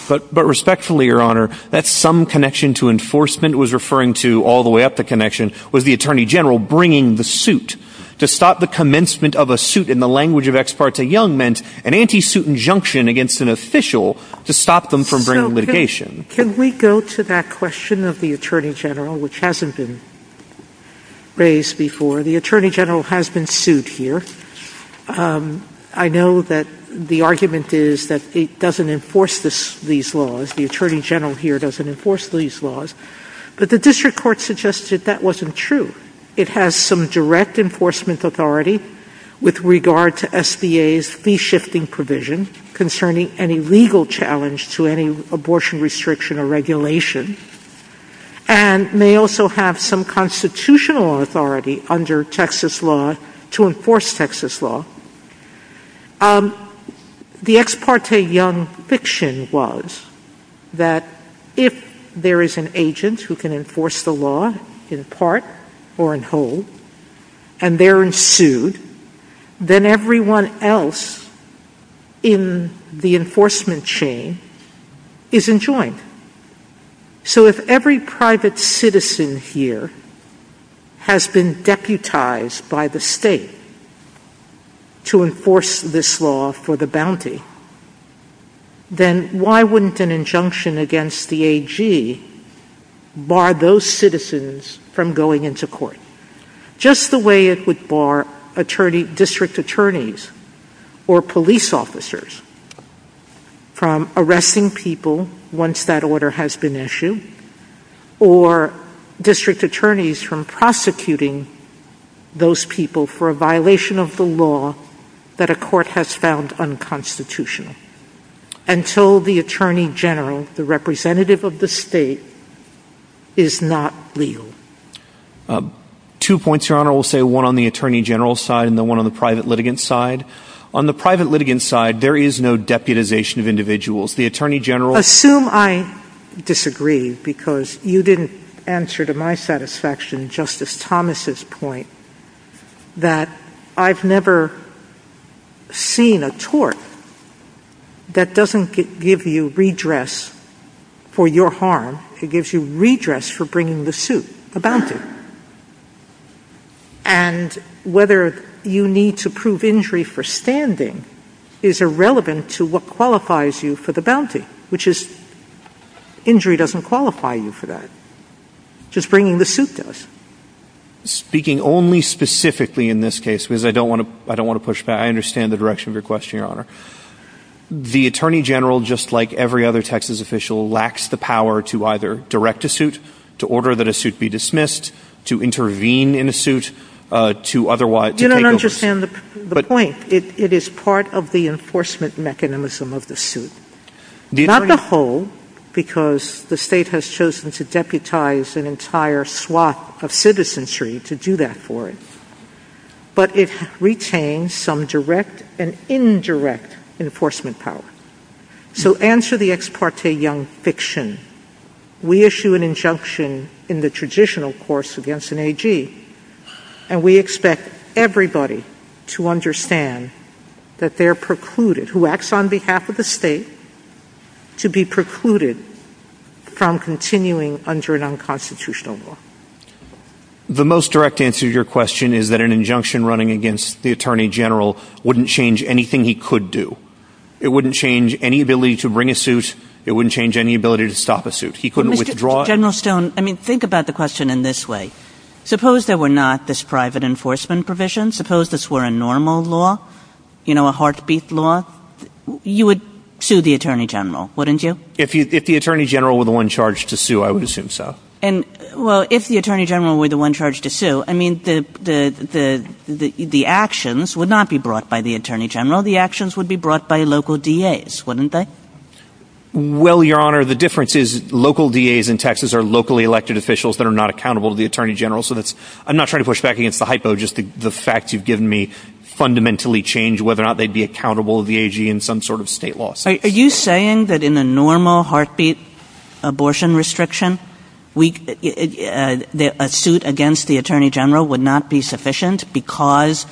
But respectfully, Your Honor, that some connection to enforcement was referring to, all the way up the connection, was the Attorney General bringing the suit. To stop the commencement of a suit in the language of Ex parte Young meant an anti-suit injunction against an official to stop them from bringing litigation. Can we go to that question of the Attorney General, which hasn't been raised before? The Attorney General has been sued here. I know that the argument is that it doesn't enforce these laws. The Attorney General here doesn't enforce these laws. But the district court suggested that wasn't true. It has some enforcement authority with regard to SBA's fee-shifting provision concerning any legal challenge to any abortion restriction or regulation, and may also have some constitutional authority under Texas law to enforce Texas law. The Ex parte Young fiction was that if there is an agent who can enforce the law in part or in whole, and they're in suit, then everyone else in the enforcement chain is enjoined. So if every private citizen here has been deputized by the bar those citizens from going into court, just the way it would bar district attorneys or police officers from arresting people once that order has been issued, or district attorneys from prosecuting those people for a violation of the law that a court has found unconstitutional. Until the Attorney General, the representative of the state, is not legal. Two points, Your Honor. We'll say one on the Attorney General's side and then one on the private litigant's side. On the private litigant's side, there is no deputization of individuals. The Attorney General... Assume I disagree because you didn't answer to my satisfaction Justice Thomas's point that I've never seen a tort that doesn't give you redress for your harm, it gives you redress for bringing the suit, a bounty. And whether you need to prove injury for standing is irrelevant to what qualifies you for the bounty, which is injury doesn't qualify you for that. Just bringing the suit does. Speaking only specifically in this case, because I don't want to push back, I understand the direction of your question, Your Honor. The Attorney General, just like every other Texas official, lacks the power to either direct a suit, to order that a suit be dismissed, to intervene in a suit, to otherwise... You don't understand the point. It is part of the enforcement mechanism of the suit. Not the whole, because the state has chosen to deputize an entire swath of citizenry to do that for it, but it retains some direct and indirect enforcement power. So answer the ex parte young fiction. We issue an injunction in the traditional course against an AG, and we expect everybody to understand that they're precluded, who acts on behalf of the state, to be precluded from continuing under an unconstitutional law. The most direct answer to your question is that an injunction running against the Attorney General wouldn't change anything he could do. It wouldn't change any ability to bring a suit, it wouldn't change any ability to stop a suit. He couldn't withdraw it. General Stone, I mean, think about the question in this way. Suppose there were not this private enforcement provision, suppose this were a normal law, you know, a heartbeat law, you would sue the Attorney General, wouldn't you? If the Attorney General were the one charged to sue, I would assume so. And, well, if the Attorney General were the one charged to sue, I mean, the actions would not be brought by the Attorney General, the actions would be brought by local DAs, wouldn't they? Well, Your Honor, the difference is local DAs in Texas are locally elected officials that are not accountable to the Attorney General, so that's, I'm not trying to push back against the hypo, just the fact you've given me fundamentally change whether or not they'd be accountable to the AG in some sort of state law. Are you saying that in a normal heartbeat abortion restriction, a suit against the Attorney General would not be sufficient because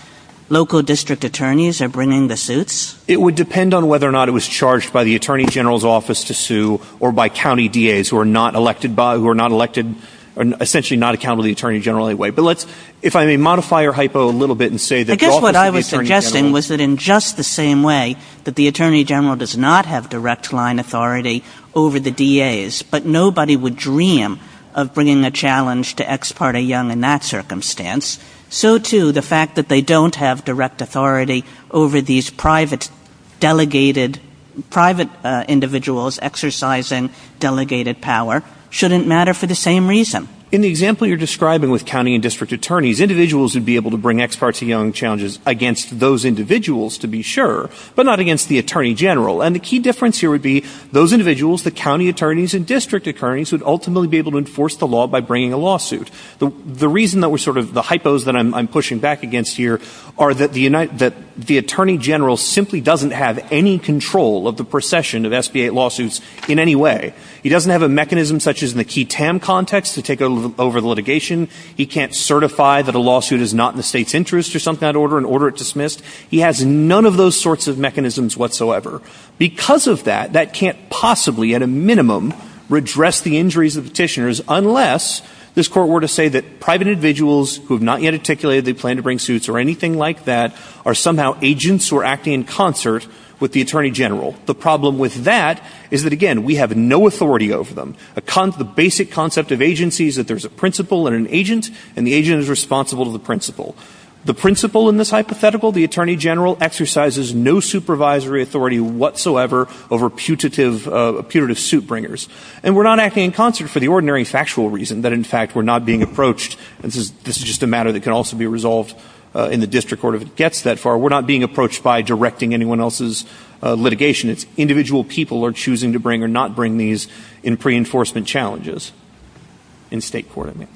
local district attorneys are bringing the suits? It would depend on whether or not it was charged by the Attorney General's office to sue or by county DAs who are not elected by, who are not elected, essentially not accountable to the Attorney General in any way. But let's, if I may modify your hypo a little bit and say that... I guess what I was suggesting was that in just the same way that the Attorney General does not have direct line authority over the DAs, but nobody would dream of bringing a challenge to ex parte young in that circumstance, so too the fact that they don't have direct authority over these private delegated, private individuals exercising delegated power shouldn't matter for the same reason. In the example you're describing with county and district attorneys, individuals would be able to bring ex parte young challenges against those individuals to be sure, but not against the Attorney General, and the key difference here would be those individuals, the county attorneys and district attorneys, would ultimately be able to enforce the law by bringing a lawsuit. The reason that we're sort of, the hypos that I'm pushing back against here are that the Attorney General simply doesn't have any control of the procession of SB-8 lawsuits in any way. He doesn't have a mechanism such as in the Key Tam context to take over the litigation. He can't certify that a lawsuit is not in the state's interest or something of that order and order it dismissed. He has none of those sorts of mechanisms whatsoever. Because of that, that can't possibly, at a minimum, redress the injuries of petitioners unless this court were to say that private individuals who have not yet articulated they plan to bring suits or anything like that are somehow agents who are acting in concert with the Attorney General. The problem with that is that, again, we have no authority over them. The basic concept of agency is that there's a principal and an agent, and the agent is responsible to the principal. The principal in this hypothetical, the Attorney General, exercises no supervisory authority whatsoever over putative suit bringers. And we're not acting in concert for the ordinary factual reason that, in fact, we're not being approached. This is just a matter that can also be resolved in the district court if it gets that far. We're not being approached by directing anyone else's litigation. It's individual people are choosing to bring or not bring these in pre-enforcement challenges in state court, I mean.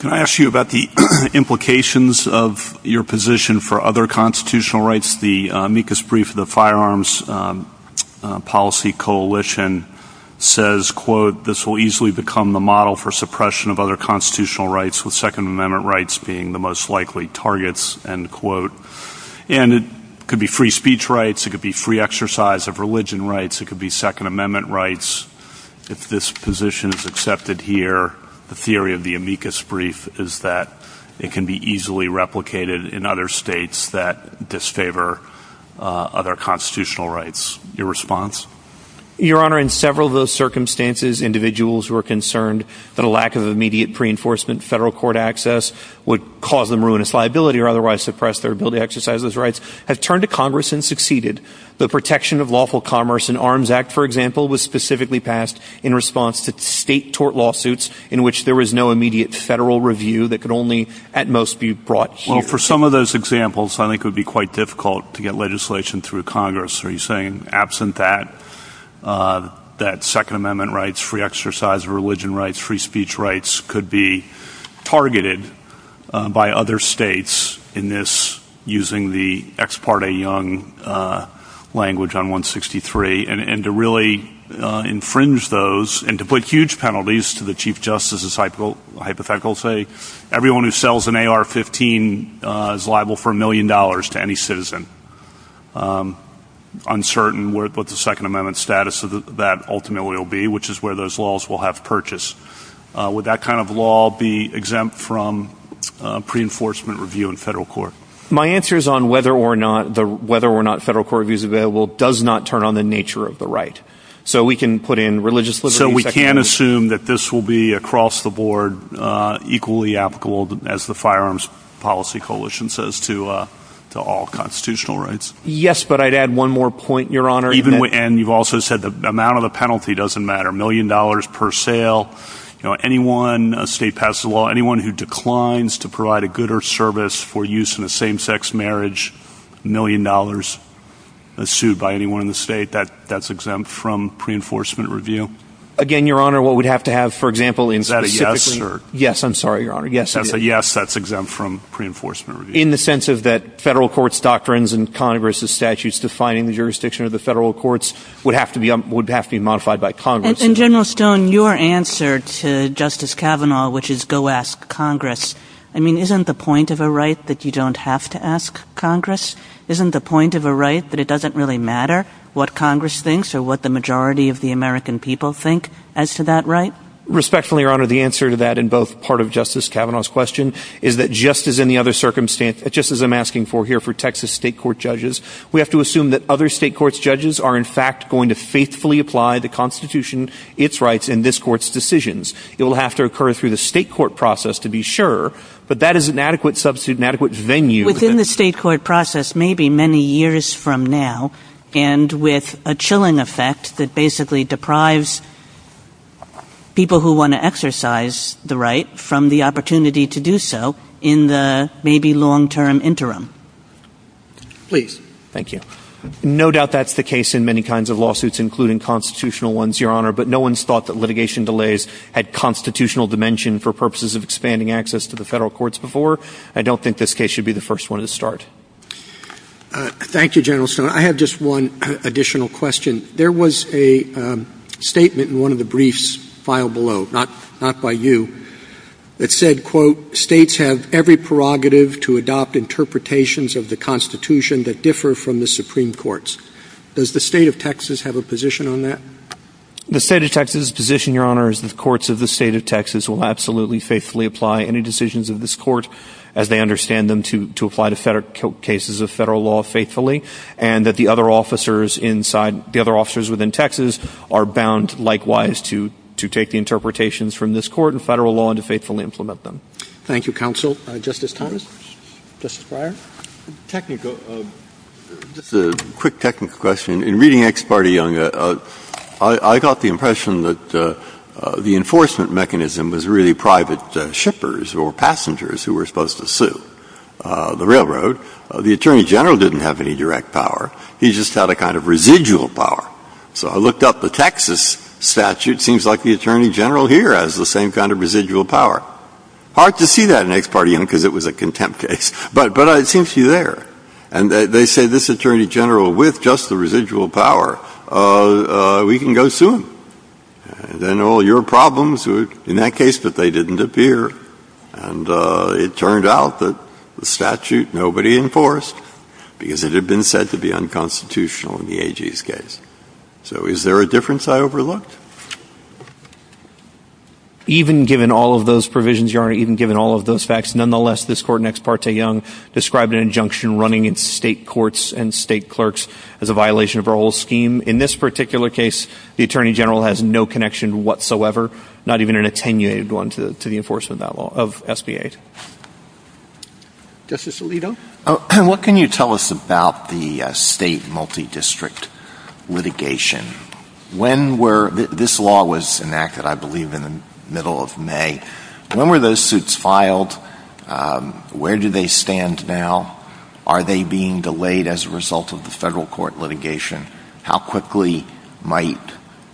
Can I ask you about the implications of your position for other constitutional rights? The amicus brief of the Firearms Policy Coalition says, quote, this will easily become the model for suppression of other constitutional rights, with Second Amendment rights being the most likely targets, end quote. And it could be free speech rights. It could be free exercise of religion rights. It could be Second Amendment rights. If this position is accepted here, the theory of the amicus brief is that it can be easily replicated in other states that disfavor other constitutional rights. Your response? Your Honor, in several of those circumstances, individuals who are concerned that a lack of immediate pre-enforcement federal court access would cause them ruinous liability or otherwise suppress their ability to exercise those rights have turned to Congress and succeeded. The Protection of Lawful Commerce and Arms Act, for example, was specifically passed in response to state tort lawsuits in which there was no immediate federal review that could only, at most, be brought to your attention. Well, for some of those examples, I think it would be quite difficult to get legislation through Congress where you're saying, absent that, that Second Amendment rights, free exercise of religion rights, free speech rights could be targeted by other states in this, using the ex parte young language on 163. And to really infringe those and to put huge penalties to the Chief Justice's hypothetical, say, everyone who sells an AR-15 is liable for a million dollars to any citizen. Uncertain what the Second Amendment status of that ultimately will be, which is where those laws will have to purchase. Would that kind of law be exempt from pre-enforcement review in federal court? My answer is on whether or not the, whether or not federal court review is available does not turn on the nature of the right. So we can put in religious liberty. So we can assume that this will be across the board, equally applicable as the Firearms Policy Coalition says to all constitutional rights? Yes, but I'd add one more point, Your Honor. And you've also said the amount of the penalty doesn't matter. A million dollars per sale. You know, anyone, a state passed a law, anyone who declines to provide a good or service for use in a same-sex marriage, a million dollars sued by anyone in the state, that that's exempt from pre-enforcement review? Again, Your Honor, what we'd have to have, for example, in- Is that a yes or- Yes, I'm sorry, Your Honor. Yes, it is. Yes, that's exempt from pre-enforcement review. In the sense of that federal court's doctrines and Congress's statutes defining the jurisdiction of the federal courts would have to be, would have to be modified by Congress. And General Stone, your answer to Justice Kavanaugh, which is go ask Congress, I mean, isn't the point of a right that you don't have to ask Congress? Isn't the point of a right that it doesn't really matter what Congress thinks or what the majority of the American people think as to that right? Respectfully, Your Honor, the answer to that in both part of Justice Kavanaugh's question is that just as in the other circumstance, just as I'm asking for here for Texas state court judges, we have to assume that other state court's judges are in fact going to faithfully apply the Constitution, its rights, and this court's decisions. It will have to occur through the state court process to be sure, but that is an adequate substitute, an adequate venue- Within the state court process, maybe many years from now, and with a chilling effect that basically deprives people who want to exercise the right from the opportunity to do so in the maybe long-term interim. Please. Thank you. No doubt that's the case in many kinds of lawsuits, including constitutional ones, Your Honor, but no one's thought that litigation delays had constitutional dimension for purposes of expanding access to the federal courts before. I don't think this case should be the first one to start. Thank you, General Stone. I have just one additional question. There was a statement in one of the briefs filed below, not by you, that said, quote, states have every prerogative to adopt interpretations of the Constitution that differ from the Supreme Court's. Does the state of Texas have a position on that? The state of Texas' position, Your Honor, is the courts of the state of Texas will absolutely faithfully apply any decisions of this court as they understand them to apply cases of federal law faithfully, and that the other officers within Texas are bound, likewise, to take the interpretations from this court and federal law and to faithfully implement them. Thank you, Counsel. Justice Thomas? Justice Breyer? Just a quick technical question. In reading Ex Parte Young, I got the impression that the enforcement mechanism was really private shippers or passengers who were supposed to sue the railroad. The Attorney General didn't have any direct power. He just had a kind of residual power. So I looked up the Texas statute. It seems like the Attorney General here has the same kind of residual power. Hard to see that in Ex Parte Young, because it was a contempt case. But I think she's there. And they say, this Attorney General, with just the residual power, we can go and sue. And then all your problems in that case that they didn't appear. And it turned out that the statute nobody enforced, because it had been said to be unconstitutional in the AG's case. So is there a difference I overlooked? Even given all of those provisions, Your Honor, even given all of those facts, nonetheless, this court in Ex Parte Young described an injunction running in state courts and state has no connection whatsoever, not even an attenuated one to the enforcement of that law of SBA. Justice Alito? What can you tell us about the state multi-district litigation? This law was enacted, I believe, in the middle of May. When were those suits filed? Where do they stand now? Are they being delayed as a result of the federal court litigation? How quickly might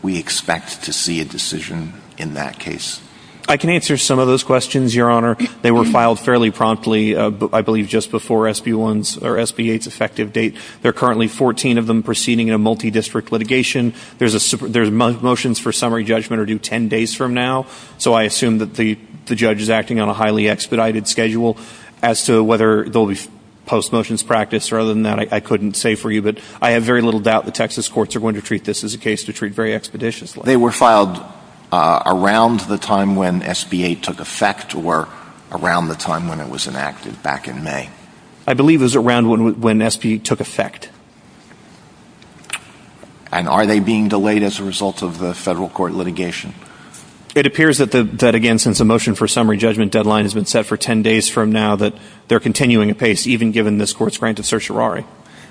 we expect to see a decision in that case? I can answer some of those questions, Your Honor. They were filed fairly promptly, I believe, just before SB1's or SB8's effective date. There are currently 14 of them proceeding in a multi-district litigation. Their motions for summary judgment are due 10 days from now. So I assume that the judge is acting on a highly expedited schedule as to whether there'll be post-motions practice. Other than that, I couldn't say for you, but I have very little doubt the Texas courts are going to treat this as a case to treat very expeditiously. They were filed around the time when SB8 took effect or around the time when it was enacted, back in May? I believe it was around when SB8 took effect. And are they being delayed as a result of the federal court litigation? It appears that, again, since the motion for summary judgment deadline has been set for 10 even given this court's granted certiorari.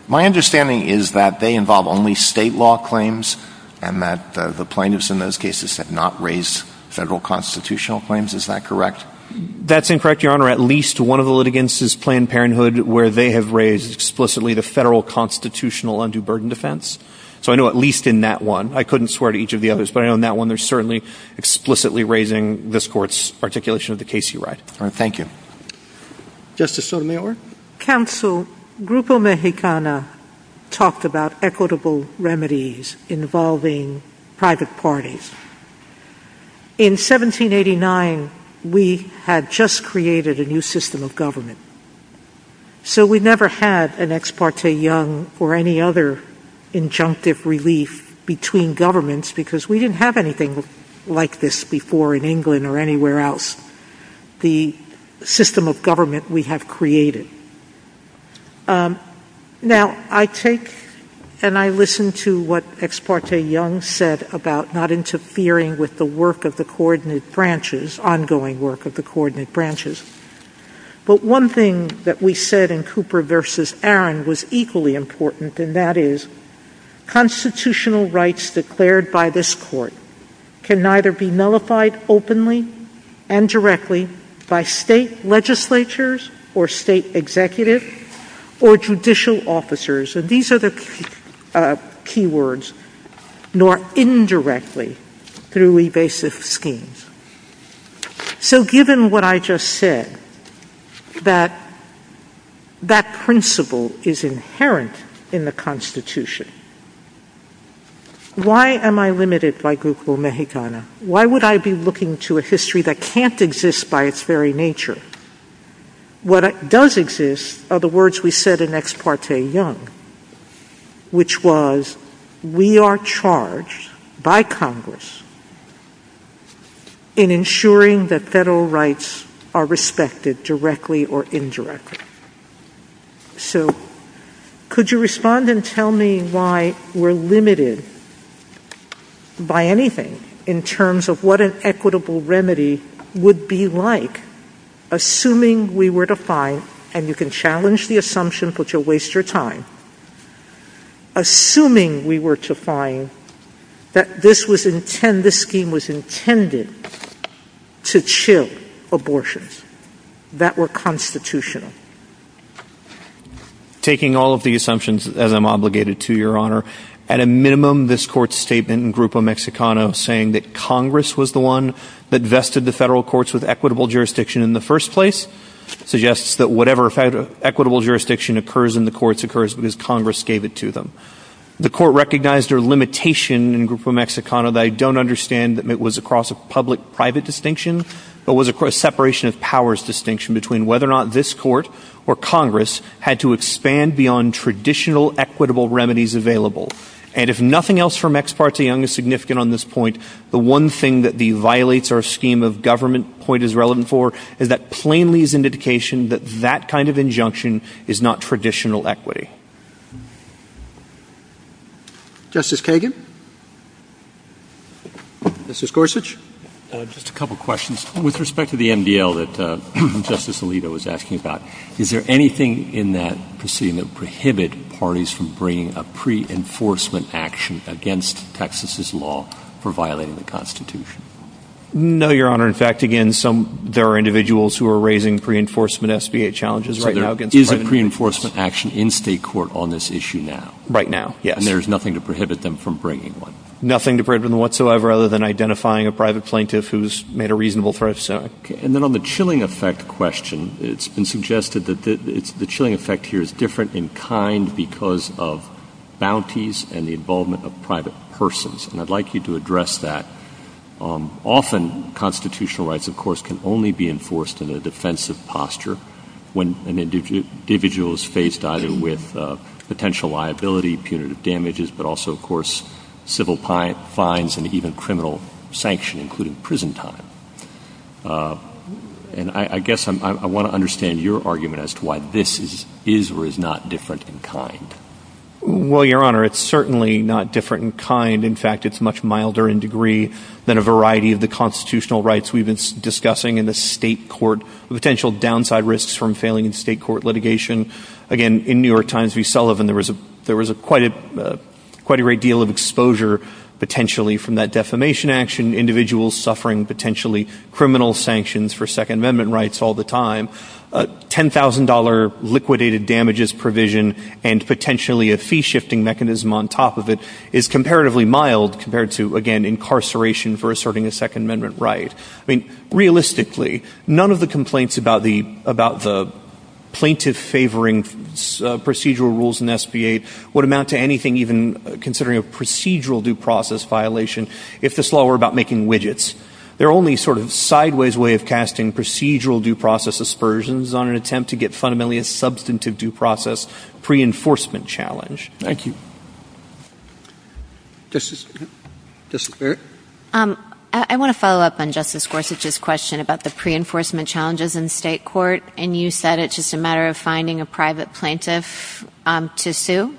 My understanding is that they involve only state law claims and that the plaintiffs in those cases have not raised federal constitutional claims. Is that correct? That's incorrect, Your Honor. At least one of the litigants is Planned Parenthood, where they have raised explicitly the federal constitutional undue burden defense. So I know at least in that one. I couldn't swear to each of the others, but I know in that one they're certainly explicitly raising this court's articulation of the case you write. Thank you. Justice Sotomayor? Counsel, Grupo Mexicana talked about equitable remedies involving private parties. In 1789, we had just created a new system of government. So we never had an Ex parte Young or any other injunctive relief between governments because we didn't have anything like this before in England or anywhere else, the system of government we have created. Now, I take and I listen to what Ex parte Young said about not interfering with the work of the coordinate branches, ongoing work of the coordinate branches. But one thing that we said in Cooper v. Aaron was equally important, and that is constitutional rights declared by this court can neither be nullified openly and directly by state legislatures or state executives or judicial officers, and these are the key words, nor indirectly through evasive schemes. So given what I just said, that that principle is inherent in the Constitution, why am I limited by Grupo Mexicana? Why would I be looking to a history that can't exist by its very nature? What does exist are the words we said in Ex parte Young, which was we are charged by Congress in ensuring that federal rights are respected directly or we're limited by anything in terms of what an equitable remedy would be like, assuming we were to find, and you can challenge the assumption but you'll waste your time, assuming we were to find that this scheme was intended to chill abortions that were constitutional. So taking all of the assumptions that I'm obligated to, Your Honor, at a minimum this court's statement in Grupo Mexicana saying that Congress was the one that vested the federal courts with equitable jurisdiction in the first place suggests that whatever equitable jurisdiction occurs in the courts occurs because Congress gave it to them. The court recognized their limitation in Grupo Mexicana that I don't understand that it was across a public-private distinction, but was across separation of powers distinction between whether or not this court or Congress had to expand beyond traditional equitable remedies available. And if nothing else from Ex parte Young is significant on this point, the one thing that the violates our scheme of government point is relevant for is that plainly is indication that that kind of injunction is not traditional equity. Justice Kagan? Justice Gorsuch? Just a couple questions. With respect to the MDL that Justice Alito was asking about, is there anything in that proceeding that would prohibit parties from bringing a pre-enforcement action against Texas's law for violating the Constitution? No, Your Honor. In fact, again, there are individuals who are raising pre-enforcement challenges. So there is a pre-enforcement action in state court on this issue now? Right now, yes. And there's nothing to prohibit them from bringing one? Nothing to prohibit them whatsoever other than identifying a private plaintiff who's made a reasonable threat. And then on the chilling effect question, it's been suggested that the chilling effect here is different in kind because of bounties and the involvement of private persons. And I'd like you to address that. Often constitutional rights, of course, can only be enforced in a defensive posture when an individual is faced either with potential liability, punitive damages, but also, of course, civil fines and even criminal sanction, including prison time. And I guess I want to understand your argument as to why this is or is not different in kind. Well, Your Honor, it's certainly not different in kind. In fact, it's much milder in degree than a variety of the constitutional rights we've been discussing in the state court, potential downside risks from failing in state court litigation. Again, in New York Times v. Sullivan, there was a quite a great deal of exposure potentially from that defamation action, individuals suffering potentially criminal sanctions for Second Amendment rights all the time. $10,000 liquidated damages provision and potentially a fee-shifting mechanism on top of it is comparatively mild compared to, again, incarceration for asserting a Second Amendment right. Realistically, none of the complaints about the plaintiff-favoring procedural rules in SBA would amount to anything even considering a procedural due process violation if this law were about making widgets. They're only sort of sideways way of casting procedural due process aspersions on an attempt to get fundamentally a substantive due process pre-enforcement challenge. Thank you. Just a quick... I want to follow up on Justice Gorsuch's question about the pre-enforcement challenges in state court, and you said it's just a matter of finding a private plaintiff to sue.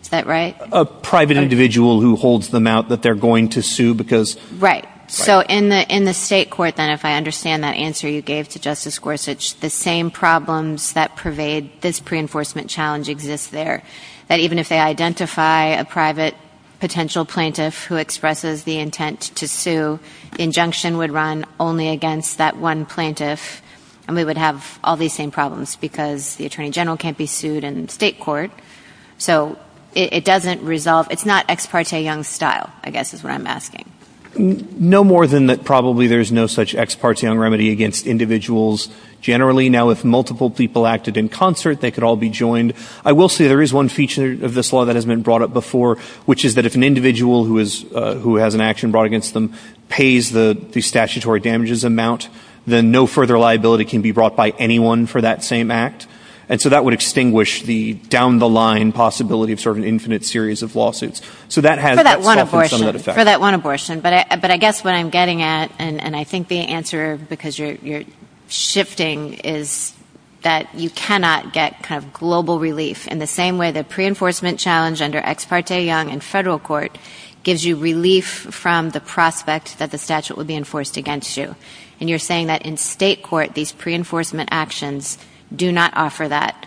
Is that right? A private individual who holds them out that they're going to sue because... Right. So, in the state court, then, if I understand that answer you gave to Justice Gorsuch, the same problems that pervade this pre-enforcement challenge exist there, that if they identify a private potential plaintiff who expresses the intent to sue, the injunction would run only against that one plaintiff, and we would have all these same problems because the attorney general can't be sued in state court. So, it doesn't resolve... It's not ex parte Young style, I guess, is what I'm asking. No more than that. Probably there's no such ex parte Young remedy against individuals generally. Now, if multiple people acted in concert, they could all be joined. I will say there is one feature of this law that has been brought up before, which is that if an individual who has an action brought against them pays the statutory damages amount, then no further liability can be brought by anyone for that same act, and so that would extinguish the down-the-line possibility of sort of an infinite series of lawsuits. For that one abortion, but I guess what I'm getting at, and I think the answer, because you're shifting, is that you cannot get kind of global relief in the same way the pre-enforcement challenge under ex parte Young in federal court gives you relief from the prospect that the statute would be enforced against you, and you're saying that in state court, these pre-enforcement actions do not offer that,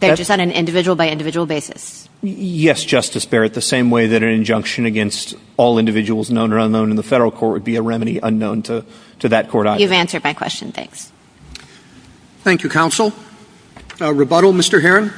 but just on an individual-by-individual basis. Yes, Justice Barrett, the same way that an injunction against all individuals known or to that court. You've answered my question, thanks. Thank you, counsel. Rebuttal, Mr. Heron?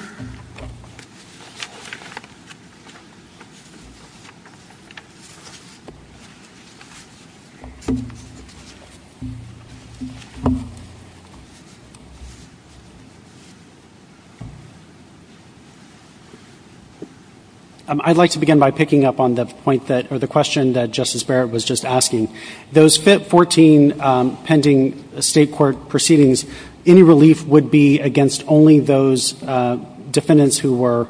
I'd like to begin by picking up on the point that, or the question that Justice Barrett was just pending, state court proceedings, any relief would be against only those defendants who were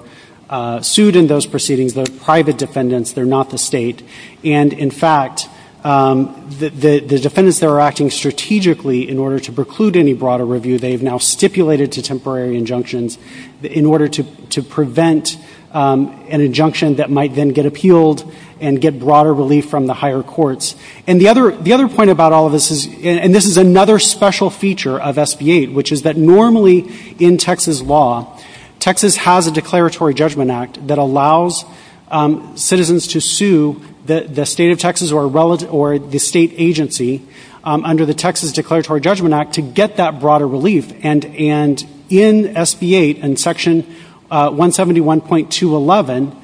sued in those proceedings, the private defendants, they're not the state, and in fact, the defendants that are acting strategically in order to preclude any broader review, they've now stipulated to temporary injunctions in order to prevent an injunction that might then get appealed and get broader relief from the higher courts. And the other point about all this is, and this is another special feature of SB 8, which is that normally in Texas law, Texas has a declaratory judgment act that allows citizens to sue the state of Texas or the state agency under the Texas declaratory judgment act to get that broader relief, and in SB 8, in section 171.211,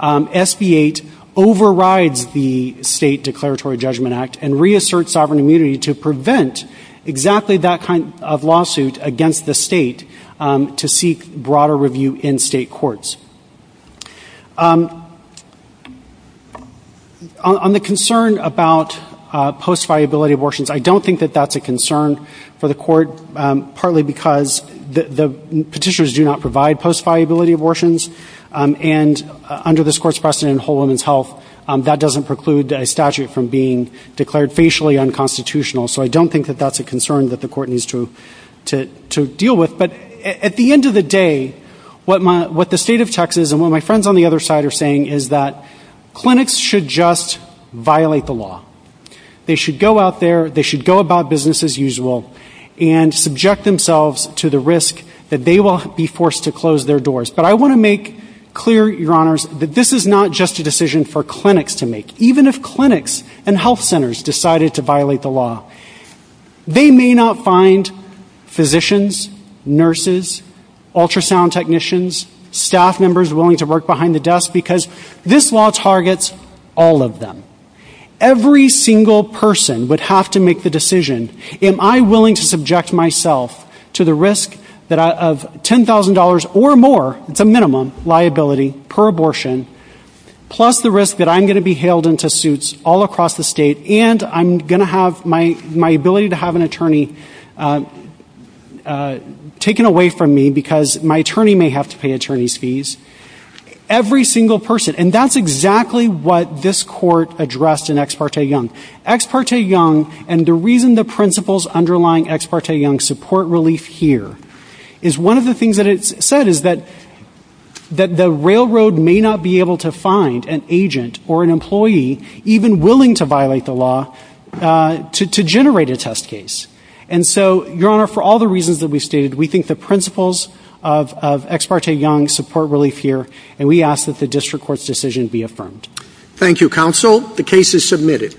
SB 8 overrides the state declaratory judgment act and reassert sovereign immunity to prevent exactly that kind of lawsuit against the state to seek broader review in state courts. On the concern about post-viability abortions, I don't think that that's a concern for the court, partly because the petitioners do not provide post-viability abortions, and under this court's precedent in whole women's health, that doesn't preclude a statute from being declared facially unconstitutional, so I don't think that that's a concern that the court needs to deal with. But at the end of the day, what the state of Texas and what my friends on the other side are saying is that clinics should just violate the law. They should go out there, they should go about business as usual, and subject themselves to the risk that they will be forced to close their doors. But I want to make clear, your honors, that this is not just a decision for clinics to make. Even if clinics and health centers decided to violate the law, they may not find physicians, nurses, ultrasound technicians, staff members willing to work behind the desk, because this law targets all of them. Every single person would have to make the decision, am I willing to subject myself to the risk of $10,000 or more, it's a minimum, liability per abortion, plus the risk that I'm going to be hailed into suits all across the state, and I'm going to have my ability to have an attorney taken away from me because my attorney may have to pay attorney's fees. Every single person, and that's exactly what this court addressed in Ex parte Young. Ex parte Young, and the reason the principles underlying Ex parte Young support relief here, is one of the things that it said is that the railroad may not be able to find an agent or an employee even willing to violate the law to generate a test case. And so, your honor, for all reasons that we've stated, we think the principles of Ex parte Young support relief here, and we ask that the district court's decision be affirmed. Thank you, counsel. The case is submitted.